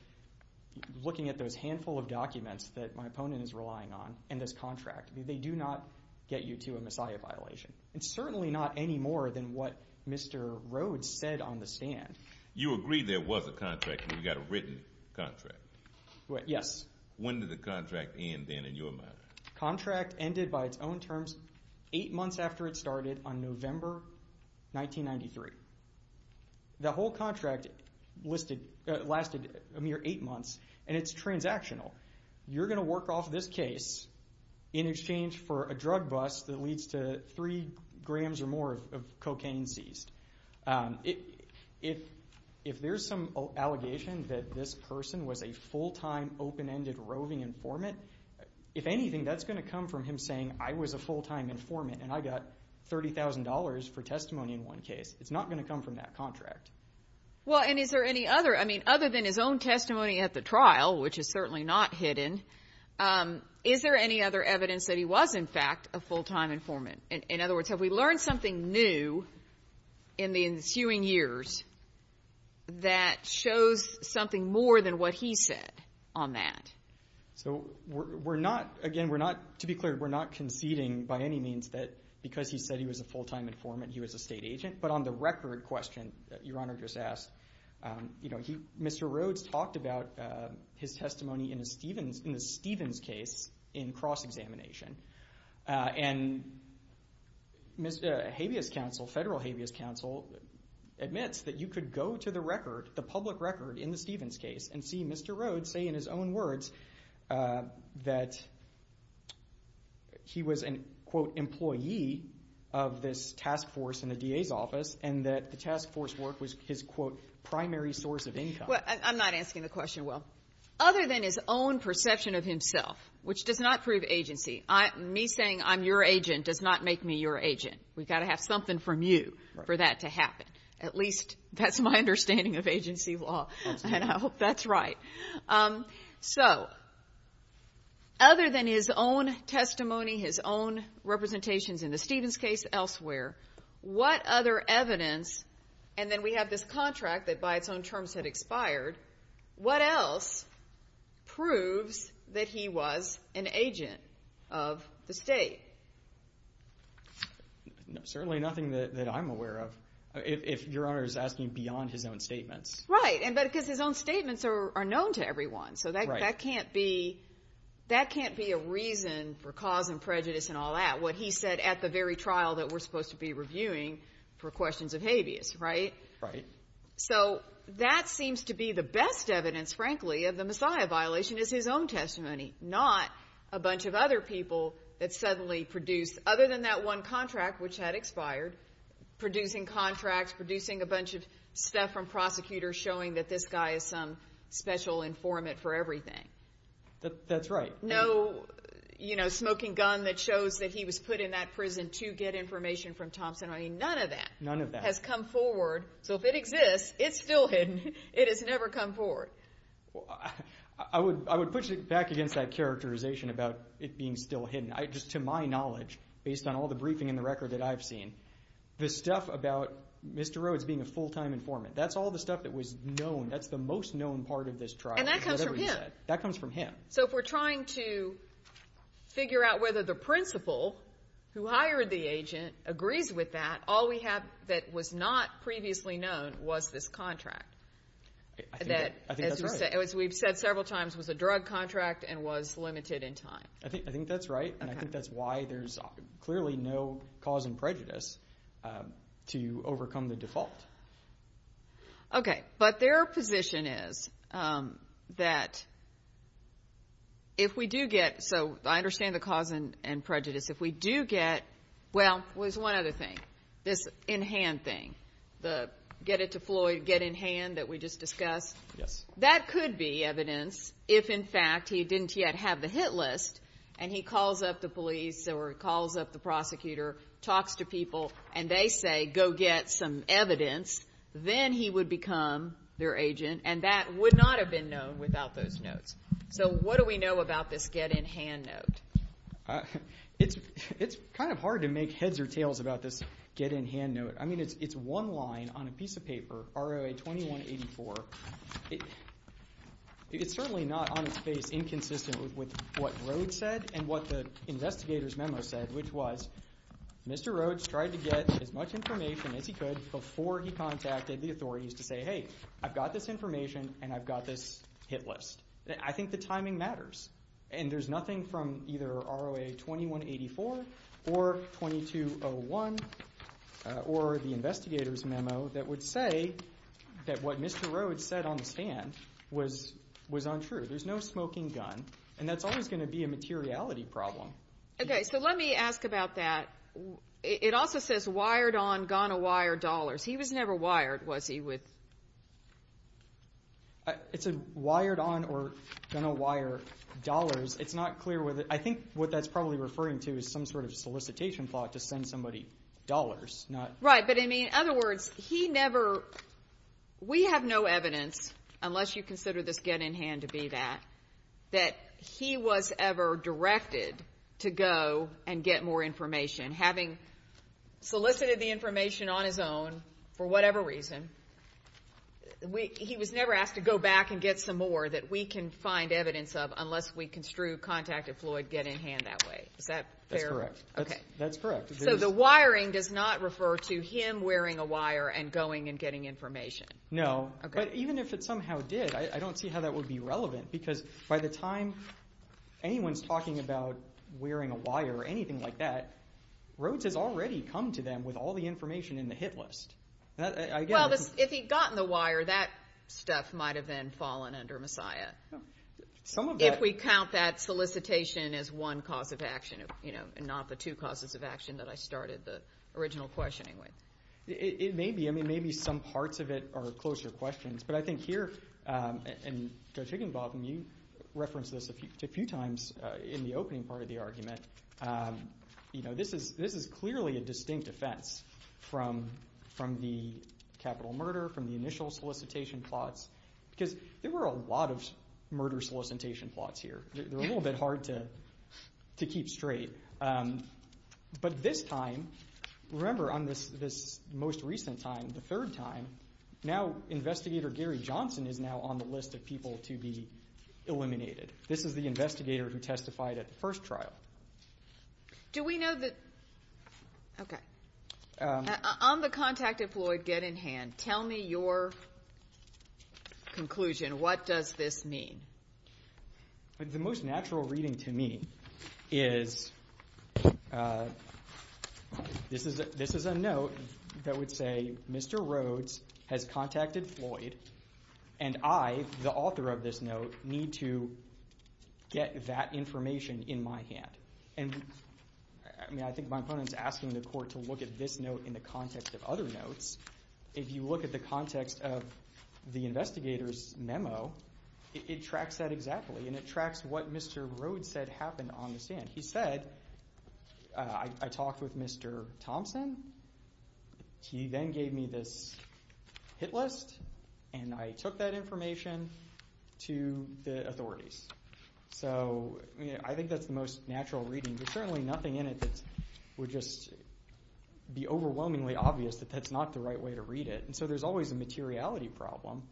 looking at those handful of documents that my opponent is relying on and this contract, they do not get you to a Messiah violation. It's certainly not any more than what Mr. Rhodes said on the stand. You agreed there was a contract and you got a written contract. Yes. When did the contract end then in your mind? Contract ended by its own terms eight months after it started on November 1993. The whole contract lasted a mere eight months, and it's transactional. You're going to work off this case in exchange for a drug bust that leads to three grams or more of cocaine seized. If there's some allegation that this person was a full-time, open-ended, roving informant, if anything, that's going to come from him saying, I was a full-time informant and I got $30,000 for testimony in one case. It's not going to come from that contract. Well, and is there any other? I mean, other than his own testimony at the trial, which is certainly not hidden, is there any other evidence that he was, in fact, a full-time informant? In other words, have we learned something new in the ensuing years that shows something more than what he said on that? So we're not, again, to be clear, we're not conceding by any means that because he said he was a full-time informant, he was a state agent. But on the record question that Your Honor just asked, Mr. Rhodes talked about his testimony in the Stevens case in cross-examination, and federal habeas counsel admits that you could go to the record, in the Stevens case, and see Mr. Rhodes say in his own words that he was an, quote, employee of this task force in the DA's office and that the task force work was his, quote, primary source of income. Well, I'm not asking the question, Will. Other than his own perception of himself, which does not prove agency, me saying I'm your agent does not make me your agent. We've got to have something from you for that to happen. At least that's my understanding of agency law, and I hope that's right. So other than his own testimony, his own representations in the Stevens case, elsewhere, what other evidence, and then we have this contract that by its own terms had expired, what else proves that he was an agent of the state? Certainly nothing that I'm aware of. If Your Honor is asking beyond his own statements. Right, but because his own statements are known to everyone, so that can't be a reason for cause and prejudice and all that. What he said at the very trial that we're supposed to be reviewing for questions of habeas, right? Right. So that seems to be the best evidence, frankly, of the Messiah violation is his own testimony, not a bunch of other people that suddenly produced, other than that one contract which had expired, producing contracts, producing a bunch of stuff from prosecutors showing that this guy is some special informant for everything. That's right. No smoking gun that shows that he was put in that prison to get information from Thompson. I mean, none of that. None of that. Has come forward. So if it exists, it's still hidden. It has never come forward. I would push it back against that characterization about it being still hidden. Just to my knowledge, based on all the briefing and the record that I've seen, the stuff about Mr. Rhodes being a full-time informant, that's all the stuff that was known. That's the most known part of this trial. And that comes from him. That comes from him. So if we're trying to figure out whether the principal who hired the agent agrees with that, all we have that was not previously known was this contract. I think that's right. As we've said several times, it was a drug contract and was limited in time. I think that's right, and I think that's why there's clearly no cause and prejudice to overcome the default. Okay. But their position is that if we do get, so I understand the cause and prejudice. If we do get, well, there's one other thing, this in-hand thing, the get-it-to-Floyd get-in-hand that we just discussed. Yes. That could be evidence if, in fact, he didn't yet have the hit list and he calls up the police or calls up the prosecutor, talks to people, and they say go get some evidence, then he would become their agent, and that would not have been known without those notes. So what do we know about this get-in-hand note? It's kind of hard to make heads or tails about this get-in-hand note. I mean, it's one line on a piece of paper, ROA-2184. It's certainly not on its face inconsistent with what Rhodes said and what the investigator's memo said, which was Mr. Rhodes tried to get as much information as he could before he contacted the authorities to say, hey, I've got this information and I've got this hit list. I think the timing matters, and there's nothing from either ROA-2184 or 2201 or the investigator's memo that would say that what Mr. Rhodes said on the stand was untrue. There's no smoking gun, and that's always going to be a materiality problem. Okay, so let me ask about that. It also says wired on, going to wire dollars. He was never wired, was he? It said wired on or going to wire dollars. It's not clear whether. I think what that's probably referring to is some sort of solicitation plot to send somebody dollars. Right, but, I mean, in other words, he never. We have no evidence, unless you consider this get-in-hand to be that, that he was ever directed to go and get more information. Having solicited the information on his own for whatever reason, he was never asked to go back and get some more that we can find evidence of unless we construe contact of Floyd get-in-hand that way. Is that fair? That's correct. So the wiring does not refer to him wearing a wire and going and getting information. No, but even if it somehow did, I don't see how that would be relevant because by the time anyone's talking about wearing a wire or anything like that, Rhodes has already come to them with all the information in the hit list. Well, if he'd gotten the wire, that stuff might have then fallen under Messiah. If we count that solicitation as one cause of action and not the two causes of action that I started the original questioning with. It may be. I mean, maybe some parts of it are closer questions, but I think here, and Judge Higginbotham, you referenced this a few times in the opening part of the argument. This is clearly a distinct offense from the capital murder, from the initial solicitation plots, because there were a lot of murder solicitation plots here. They're a little bit hard to keep straight. But this time, remember on this most recent time, the third time, now Investigator Gary Johnson is now on the list of people to be eliminated. This is the investigator who testified at the first trial. Do we know that? Okay. On the contact if Floyd get in hand, tell me your conclusion. What does this mean? The most natural reading to me is this is a note that would say, Mr. Rhodes has contacted Floyd, and I, the author of this note, need to get that information in my hand. And I think my opponent is asking the court to look at this note in the context of other notes. It tracks that exactly, and it tracks what Mr. Rhodes said happened on the stand. He said, I talked with Mr. Thompson. He then gave me this hit list, and I took that information to the authorities. So I think that's the most natural reading. There's certainly nothing in it that would just be overwhelmingly obvious that that's not the right way to read it. And so there's always a materiality problem,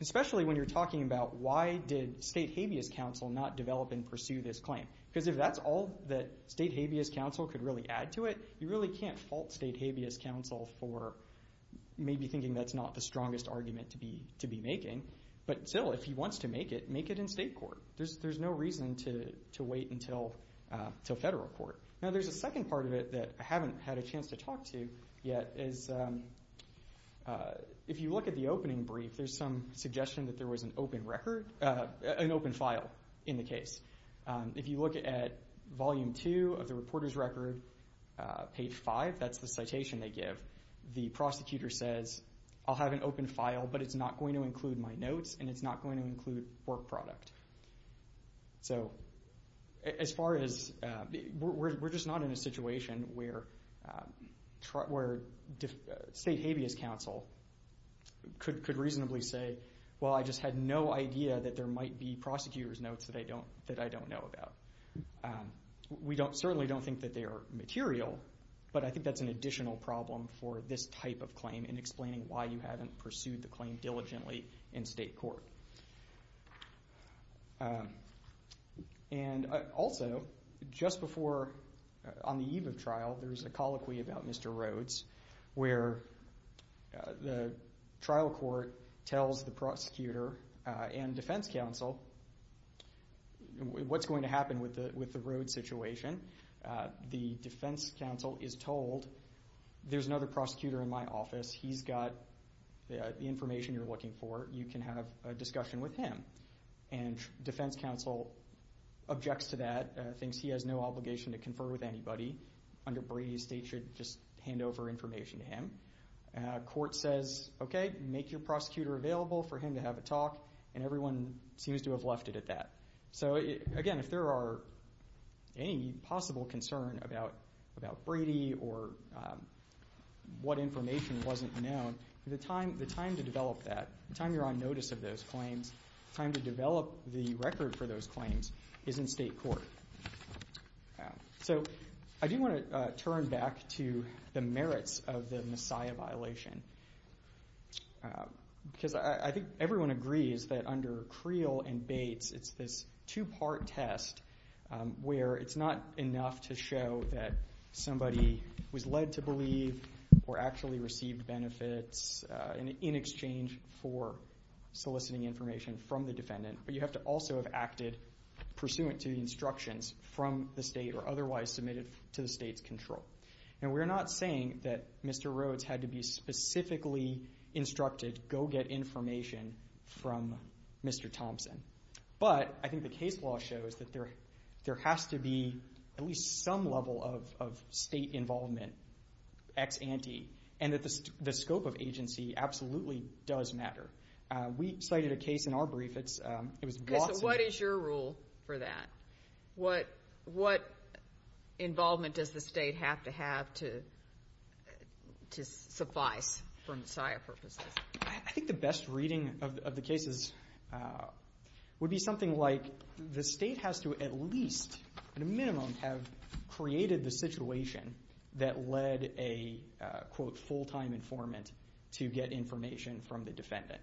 especially when you're talking about why did State Habeas Council not develop and pursue this claim? Because if that's all that State Habeas Council could really add to it, you really can't fault State Habeas Council for maybe thinking that's not the strongest argument to be making. But still, if he wants to make it, make it in state court. There's no reason to wait until federal court. Now, there's a second part of it that I haven't had a chance to talk to yet. If you look at the opening brief, there's some suggestion that there was an open file in the case. If you look at volume two of the reporter's record, page five, that's the citation they give. The prosecutor says, I'll have an open file, but it's not going to include my notes, and it's not going to include work product. So we're just not in a situation where State Habeas Council could reasonably say, well, I just had no idea that there might be prosecutor's notes that I don't know about. We certainly don't think that they are material, but I think that's an additional problem for this type of claim in explaining why you haven't pursued the claim diligently in state court. And also, just before, on the eve of trial, there's a colloquy about Mr. Rhodes where the trial court tells the prosecutor and defense counsel what's going to happen with the Rhodes situation. The defense counsel is told, there's another prosecutor in my office. He's got the information you're looking for. You can have a discussion with him. And defense counsel objects to that, thinks he has no obligation to confer with anybody. Under Brady, State should just hand over information to him. Court says, okay, make your prosecutor available for him to have a talk, and everyone seems to have left it at that. So, again, if there are any possible concern about Brady or what information wasn't known, the time to develop that, the time you're on notice of those claims, the time to develop the record for those claims is in state court. So I do want to turn back to the merits of the Messiah violation It's this two-part test where it's not enough to show that somebody was led to believe or actually received benefits in exchange for soliciting information from the defendant, but you have to also have acted pursuant to the instructions from the State or otherwise submitted to the State's control. And we're not saying that Mr. Rhodes had to be specifically instructed, go get information from Mr. Thompson. But I think the case law shows that there has to be at least some level of State involvement, ex ante, and that the scope of agency absolutely does matter. We cited a case in our brief. So what is your rule for that? What involvement does the State have to have to suffice for Messiah purposes? I think the best reading of the case would be something like the State has to at least, at a minimum, have created the situation that led a, quote, full-time informant to get information from the defendant.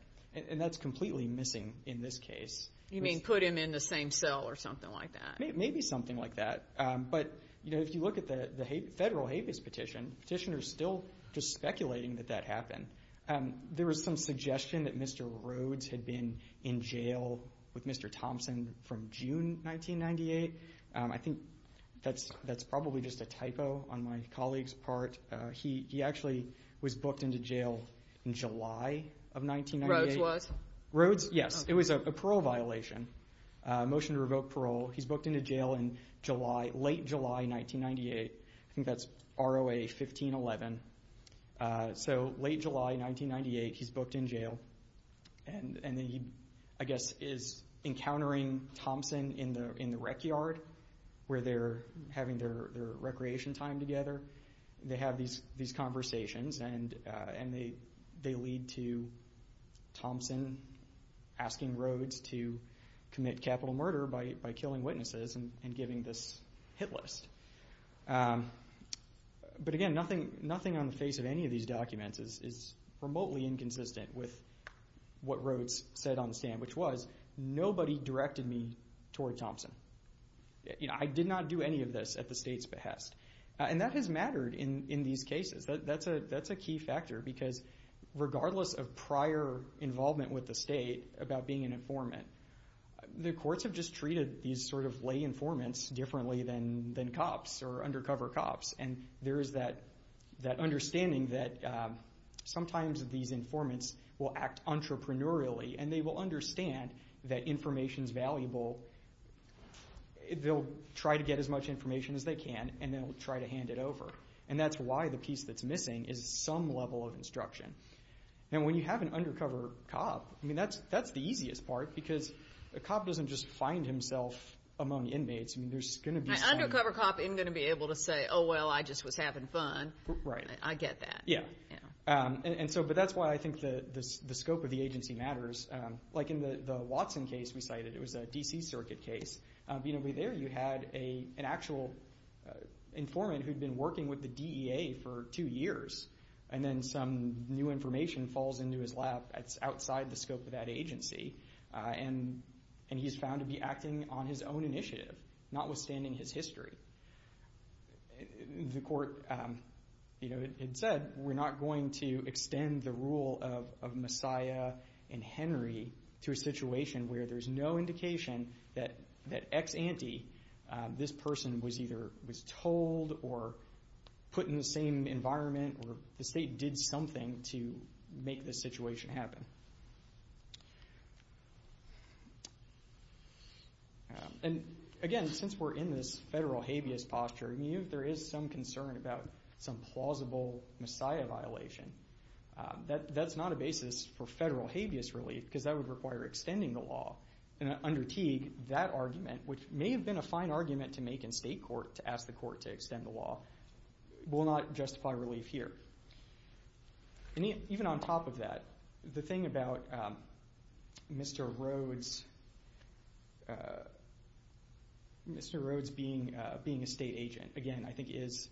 And that's completely missing in this case. You mean put him in the same cell or something like that? Maybe something like that. But, you know, if you look at the Federal Habeas Petition, petitioners are still just speculating that that happened. There was some suggestion that Mr. Rhodes had been in jail with Mr. Thompson from June 1998. I think that's probably just a typo on my colleague's part. He actually was booked into jail in July of 1998. Rhodes was? Rhodes, yes. It was a parole violation, a motion to revoke parole. He's booked into jail in late July 1998. I think that's ROA 1511. So late July 1998, he's booked in jail. And then he, I guess, is encountering Thompson in the rec yard where they're having their recreation time together. They have these conversations and they lead to Thompson asking Rhodes to commit capital murder by killing witnesses and giving this hit list. But, again, nothing on the face of any of these documents is remotely inconsistent with what Rhodes said on the stand, which was, nobody directed me toward Thompson. I did not do any of this at the state's behest. And that has mattered in these cases. That's a key factor because regardless of prior involvement with the state about being an informant, the courts have just treated these sort of lay informants differently than cops or undercover cops. And there is that understanding that sometimes these informants will act entrepreneurially and they will understand that information is valuable. They'll try to get as much information as they can and they'll try to hand it over. And that's why the piece that's missing is some level of instruction. And when you have an undercover cop, I mean, that's the easiest part because a cop doesn't just find himself among inmates. An undercover cop isn't going to be able to say, oh, well, I just was having fun. Right. I get that. Yeah. But that's why I think the scope of the agency matters. Like in the Watson case we cited, it was a D.C. circuit case. There you had an actual informant who had been working with the DEA for two years and then some new information falls into his lap that's outside the scope of that agency. And he's found to be acting on his own initiative, notwithstanding his history. The court had said we're not going to extend the rule of Messiah and Henry to a situation where there's no indication that ex-ante this person was either told or put in the same environment or the state did something to make this situation happen. And, again, since we're in this federal habeas posture, even if there is some concern about some plausible Messiah violation, that's not a basis for federal habeas relief because that would require extending the law. Under Teague, that argument, which may have been a fine argument to make in state court to ask the court to extend the law, will not justify relief here. And even on top of that, the thing about Mr. Rhodes being a state agent, again, I think is,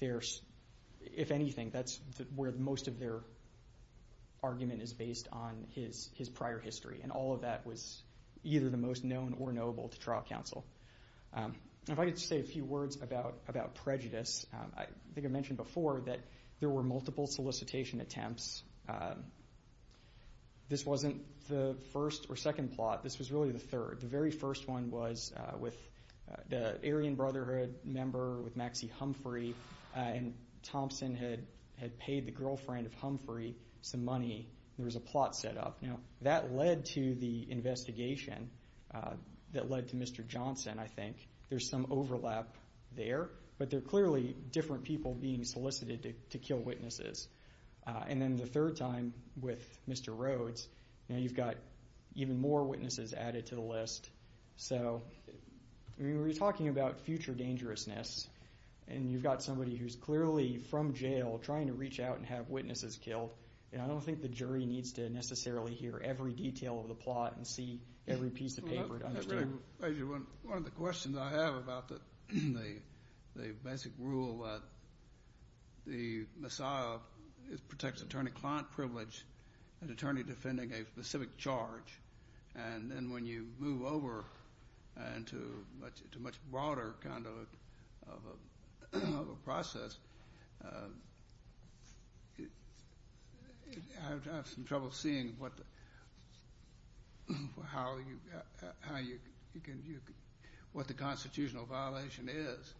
if anything, that's where most of their argument is based on his prior history. And all of that was either the most known or knowable to trial counsel. If I could say a few words about prejudice, I think I mentioned before that there were multiple solicitation attempts. This wasn't the first or second plot. This was really the third. The very first one was with the Aryan Brotherhood member, with Maxie Humphrey, and Thompson had paid the girlfriend of Humphrey some money. There was a plot set up. Now, that led to the investigation that led to Mr. Johnson, I think. There's some overlap there, but there are clearly different people being solicited to kill witnesses. And then the third time with Mr. Rhodes, you've got even more witnesses added to the list. So we were talking about future dangerousness, and you've got somebody who's clearly from jail trying to reach out and have witnesses killed, and I don't think the jury needs to necessarily hear every detail of the plot and see every piece of paper to understand. One of the questions I have about the basic rule that the missile protects attorney-client privilege, an attorney defending a specific charge, and then when you move over to a much broader kind of a process, I have some trouble seeing what the constitutional violation is.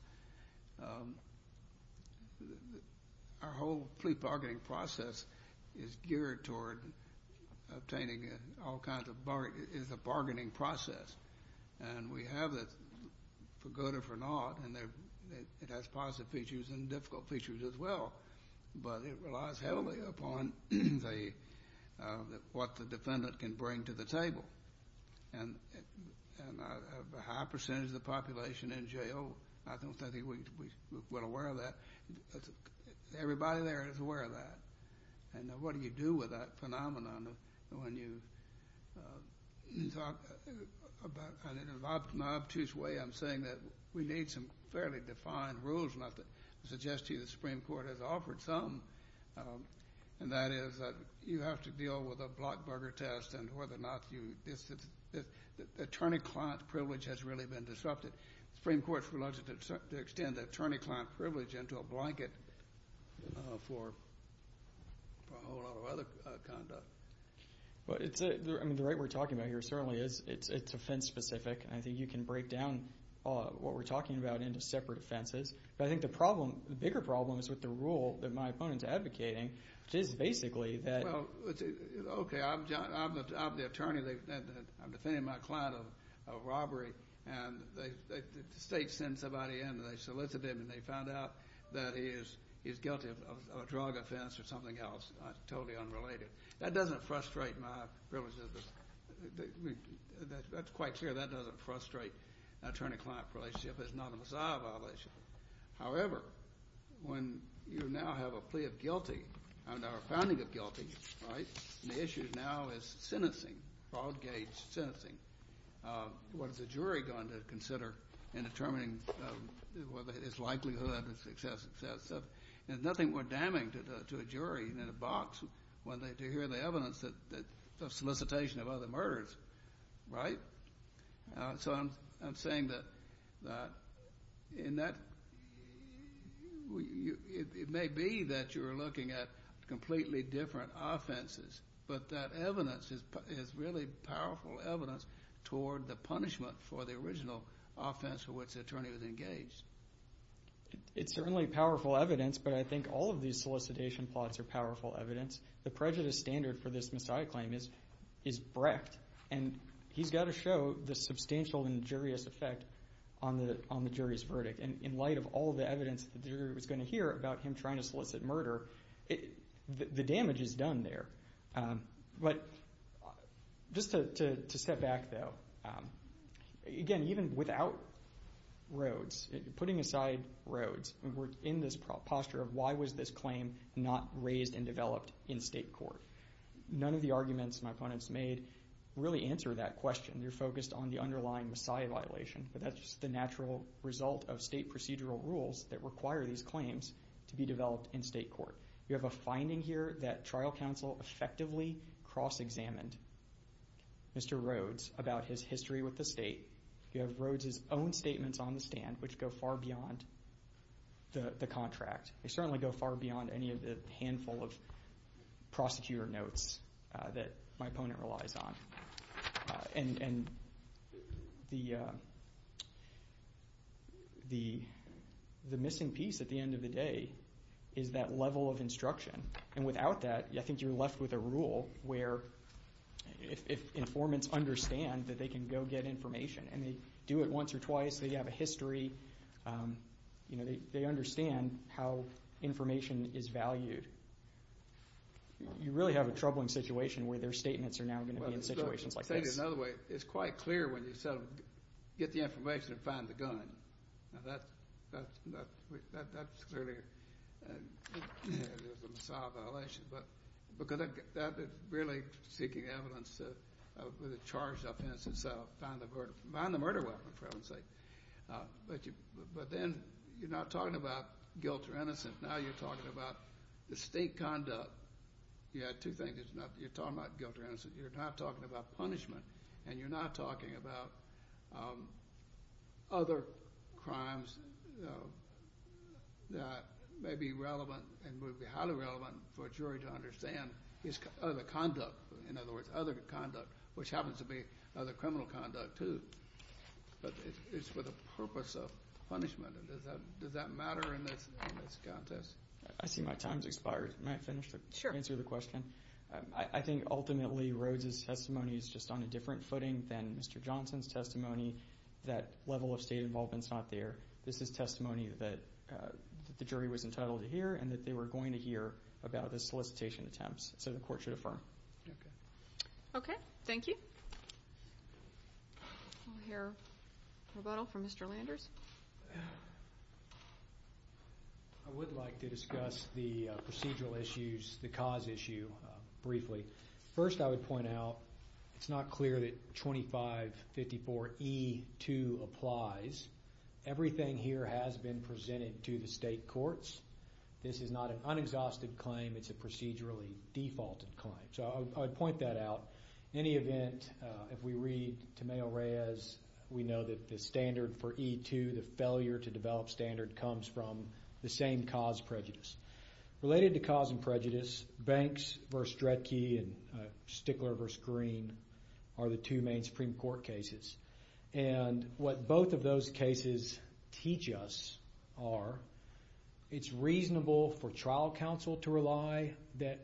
Our whole plea bargaining process is geared toward obtaining all kinds of bargains. It's a bargaining process, and we have it for good or for not, and it has positive features and difficult features as well. But it relies heavily upon what the defendant can bring to the table. And a high percentage of the population in jail, I don't think we're aware of that. Everybody there is aware of that. And what do you do with that phenomenon when you talk about it in an obtuse way? I'm saying that we need some fairly defined rules, not to suggest to you the Supreme Court has offered some, and that is that you have to deal with a block-burger test and whether or not the attorney-client privilege has really been disrupted. The Supreme Court's reluctant to extend the attorney-client privilege into a blanket for a whole lot of other conduct. The right we're talking about here certainly is it's offense-specific, and I think you can break down what we're talking about into separate offenses. But I think the problem, the bigger problem is with the rule that my opponent's advocating, which is basically that— Well, okay, I'm the attorney. I'm defending my client of a robbery, and the state sends somebody in, and they solicit him, and they found out that he is guilty of a drug offense or something else totally unrelated. That doesn't frustrate my privileges. That's quite clear. That doesn't frustrate an attorney-client relationship. It's not a missile violation. However, when you now have a plea of guilty, and now a founding of guilty, right? The issue now is sentencing, broad-gauge sentencing. What is the jury going to consider in determining whether his likelihood of success? There's nothing more damning to a jury than a box to hear the evidence of solicitation of other murders, right? So I'm saying that in that it may be that you're looking at completely different offenses, but that evidence is really powerful evidence toward the punishment for the original offense for which the attorney was engaged. It's certainly powerful evidence, but I think all of these solicitation plots are powerful evidence. The prejudice standard for this missile claim is breadth, and he's got to show the substantial injurious effect on the jury's verdict. And in light of all the evidence that the jury was going to hear about him trying to solicit murder, the damage is done there. But just to step back, though, again, even without Rhodes, putting aside Rhodes, we're in this posture of why was this claim not raised and developed in state court? None of the arguments my opponents made really answer that question. They're focused on the underlying missile violation, but that's just the natural result of state procedural rules that require these claims to be developed in state court. You have a finding here that trial counsel effectively cross-examined Mr. Rhodes about his history with the state. You have Rhodes's own statements on the stand, which go far beyond the contract. They certainly go far beyond any of the handful of prosecutor notes that my opponent relies on. And the missing piece at the end of the day is that level of instruction. And without that, I think you're left with a rule where if informants understand that they can go get information and they do it once or twice, they have a history, you know, they understand how information is valued. You really have a troubling situation where their statements are now going to be in situations like this. I'll say it another way. It's quite clear when you get the information and find the gun. Now, that's clearly a missile violation. But really seeking evidence with a charged offense and so find the murder weapon, for heaven's sake. But then you're not talking about guilt or innocence. Now you're talking about the state conduct. Yeah, two things. You're talking about guilt or innocence. You're not talking about punishment, and you're not talking about other crimes that may be relevant and would be highly relevant for a jury to understand his other conduct. In other words, other conduct, which happens to be other criminal conduct, too. But it's for the purpose of punishment. Does that matter in this context? I see my time has expired. May I finish to answer the question? Sure. I think ultimately Rhodes' testimony is just on a different footing than Mr. Johnson's testimony. That level of state involvement is not there. This is testimony that the jury was entitled to hear and that they were going to hear about the solicitation attempts, so the court should affirm. Okay. Okay. Thank you. We'll hear rebuttal from Mr. Landers. I would like to discuss the procedural issues, the cause issue, briefly. First, I would point out it's not clear that 2554E2 applies. Everything here has been presented to the state courts. This is not an unexhausted claim. It's a procedurally defaulted claim. So I would point that out. In any event, if we read Tamayo-Reyes, we know that the standard for E2, the failure to develop standard, comes from the same cause, prejudice. Related to cause and prejudice, Banks v. Dredke and Stickler v. Green are the two main Supreme Court cases. And what both of those cases teach us are it's reasonable for trial counsel to rely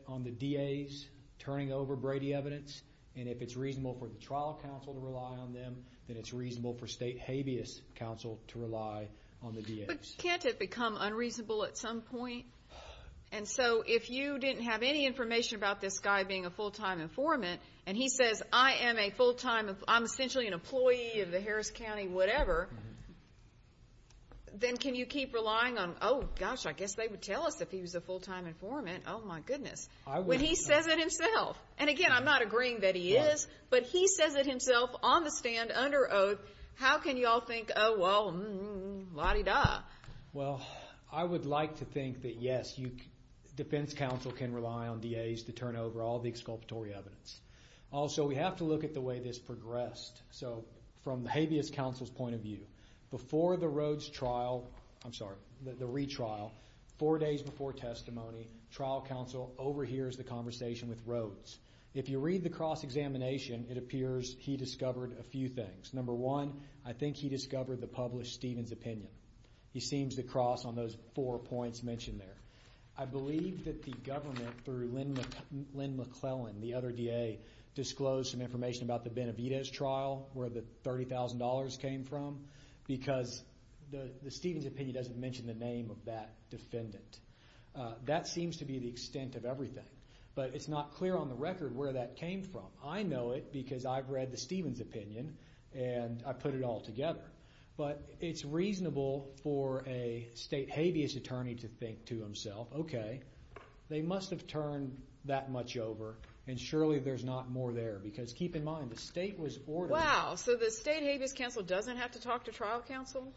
on the DAs turning over Brady evidence, and if it's reasonable for the trial counsel to rely on them, then it's reasonable for state habeas counsel to rely on the DAs. But can't it become unreasonable at some point? And so if you didn't have any information about this guy being a full-time informant and he says, I'm essentially an employee of the Harris County whatever, then can you keep relying on, oh, gosh, I guess they would tell us if he was a full-time informant, oh, my goodness, when he says it himself. And, again, I'm not agreeing that he is, but he says it himself on the stand under oath. How can you all think, oh, well, la-di-da? Well, I would like to think that, yes, defense counsel can rely on DAs to turn over all the exculpatory evidence. Also, we have to look at the way this progressed. So from the habeas counsel's point of view, before the Rhodes trial, I'm sorry, the retrial, four days before testimony, trial counsel overhears the conversation with Rhodes. If you read the cross-examination, it appears he discovered a few things. Number one, I think he discovered the published Stevens opinion. He seems to cross on those four points mentioned there. I believe that the government, through Lynn McClellan, the other DA, disclosed some information about the Benavidez trial, where the $30,000 came from, because the Stevens opinion doesn't mention the name of that defendant. That seems to be the extent of everything, but it's not clear on the record where that came from. I know it because I've read the Stevens opinion, and I put it all together. But it's reasonable for a state habeas attorney to think to himself, okay, they must have turned that much over, and surely there's not more there. Because keep in mind, the state was ordering. Wow, so the state habeas counsel doesn't have to talk to trial counsel?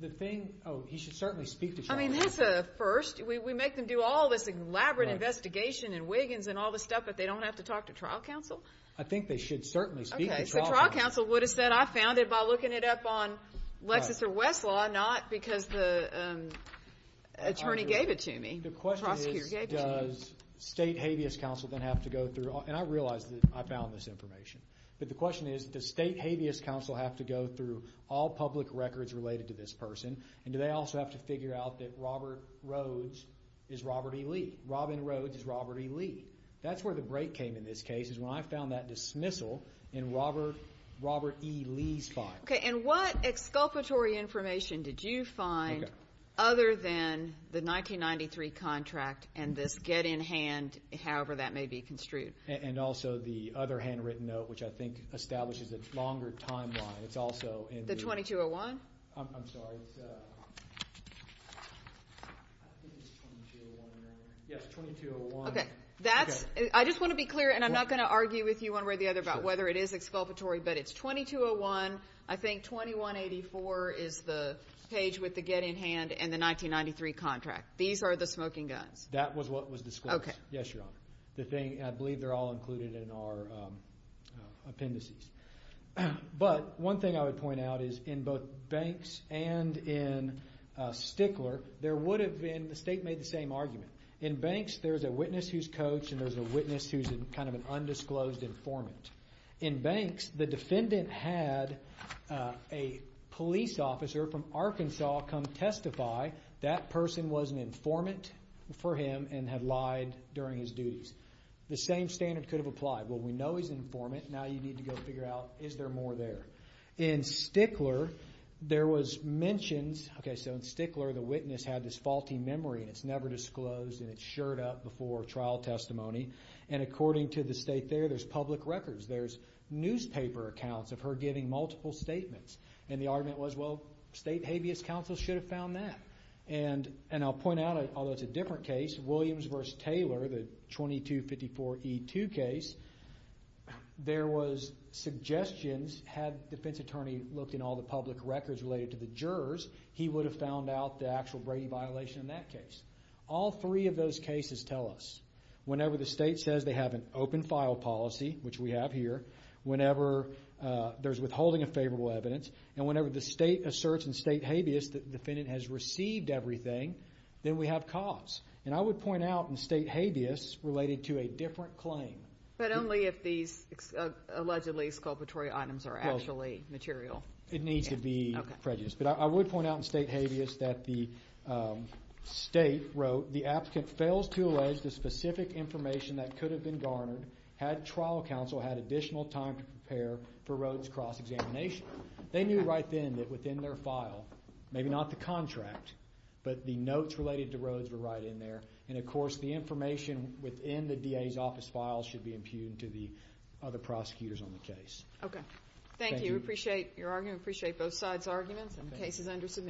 The thing, oh, he should certainly speak to trial counsel. I mean, that's a first. We make them do all this elaborate investigation and Wiggins and all this stuff, but they don't have to talk to trial counsel? I think they should certainly speak to trial counsel. Okay, so trial counsel would have said, I found it by looking it up on Lexis or Westlaw, not because the attorney gave it to me. The question is, does state habeas counsel then have to go through, and I realize that I found this information, but the question is, does state habeas counsel have to go through all public records related to this person, and do they also have to figure out that Robert Rhodes is Robert E. Lee? Robin Rhodes is Robert E. Lee. That's where the break came in this case is when I found that dismissal in Robert E. Lee's file. Okay, and what exculpatory information did you find other than the 1993 contract and this get in hand, however that may be construed? And also the other handwritten note, which I think establishes a longer timeline. The 2201? I'm sorry. Yes, 2201. I just want to be clear, and I'm not going to argue with you one way or the other about whether it is exculpatory, but it's 2201. I think 2184 is the page with the get in hand and the 1993 contract. These are the smoking guns. That was what was disclosed. Yes, Your Honor. I believe they're all included in our appendices. But one thing I would point out is in both Banks and in Stickler, the state made the same argument. In Banks, there's a witness who's coached, and there's a witness who's kind of an undisclosed informant. In Banks, the defendant had a police officer from Arkansas come testify. That person was an informant for him and had lied during his duties. The same standard could have applied. Well, we know he's an informant. Now you need to go figure out is there more there. In Stickler, there was mentions. Okay, so in Stickler, the witness had this faulty memory, and it's never disclosed, and it's shirred up before trial testimony. And according to the state there, there's public records. There's newspaper accounts of her giving multiple statements. And the argument was, well, state habeas counsel should have found that. And I'll point out, although it's a different case, Williams v. Taylor, the 2254E2 case, there was suggestions. Had the defense attorney looked in all the public records related to the jurors, he would have found out the actual Brady violation in that case. All three of those cases tell us, whenever the state says they have an open file policy, which we have here, whenever there's withholding of favorable evidence, and whenever the state asserts in state habeas that the defendant has received everything, then we have cause. And I would point out in state habeas related to a different claim. But only if these allegedly exculpatory items are actually material. It needs to be prejudice. But I would point out in state habeas that the state wrote, the applicant fails to allege the specific information that could have been garnered had trial counsel had additional time to prepare for Rhodes cross-examination. They knew right then that within their file, maybe not the contract, but the notes related to Rhodes were right in there. And, of course, the information within the DA's office file should be impugned to the other prosecutors on the case. Okay. Thank you. We appreciate your argument. We appreciate both sides' arguments. And the case is under submission.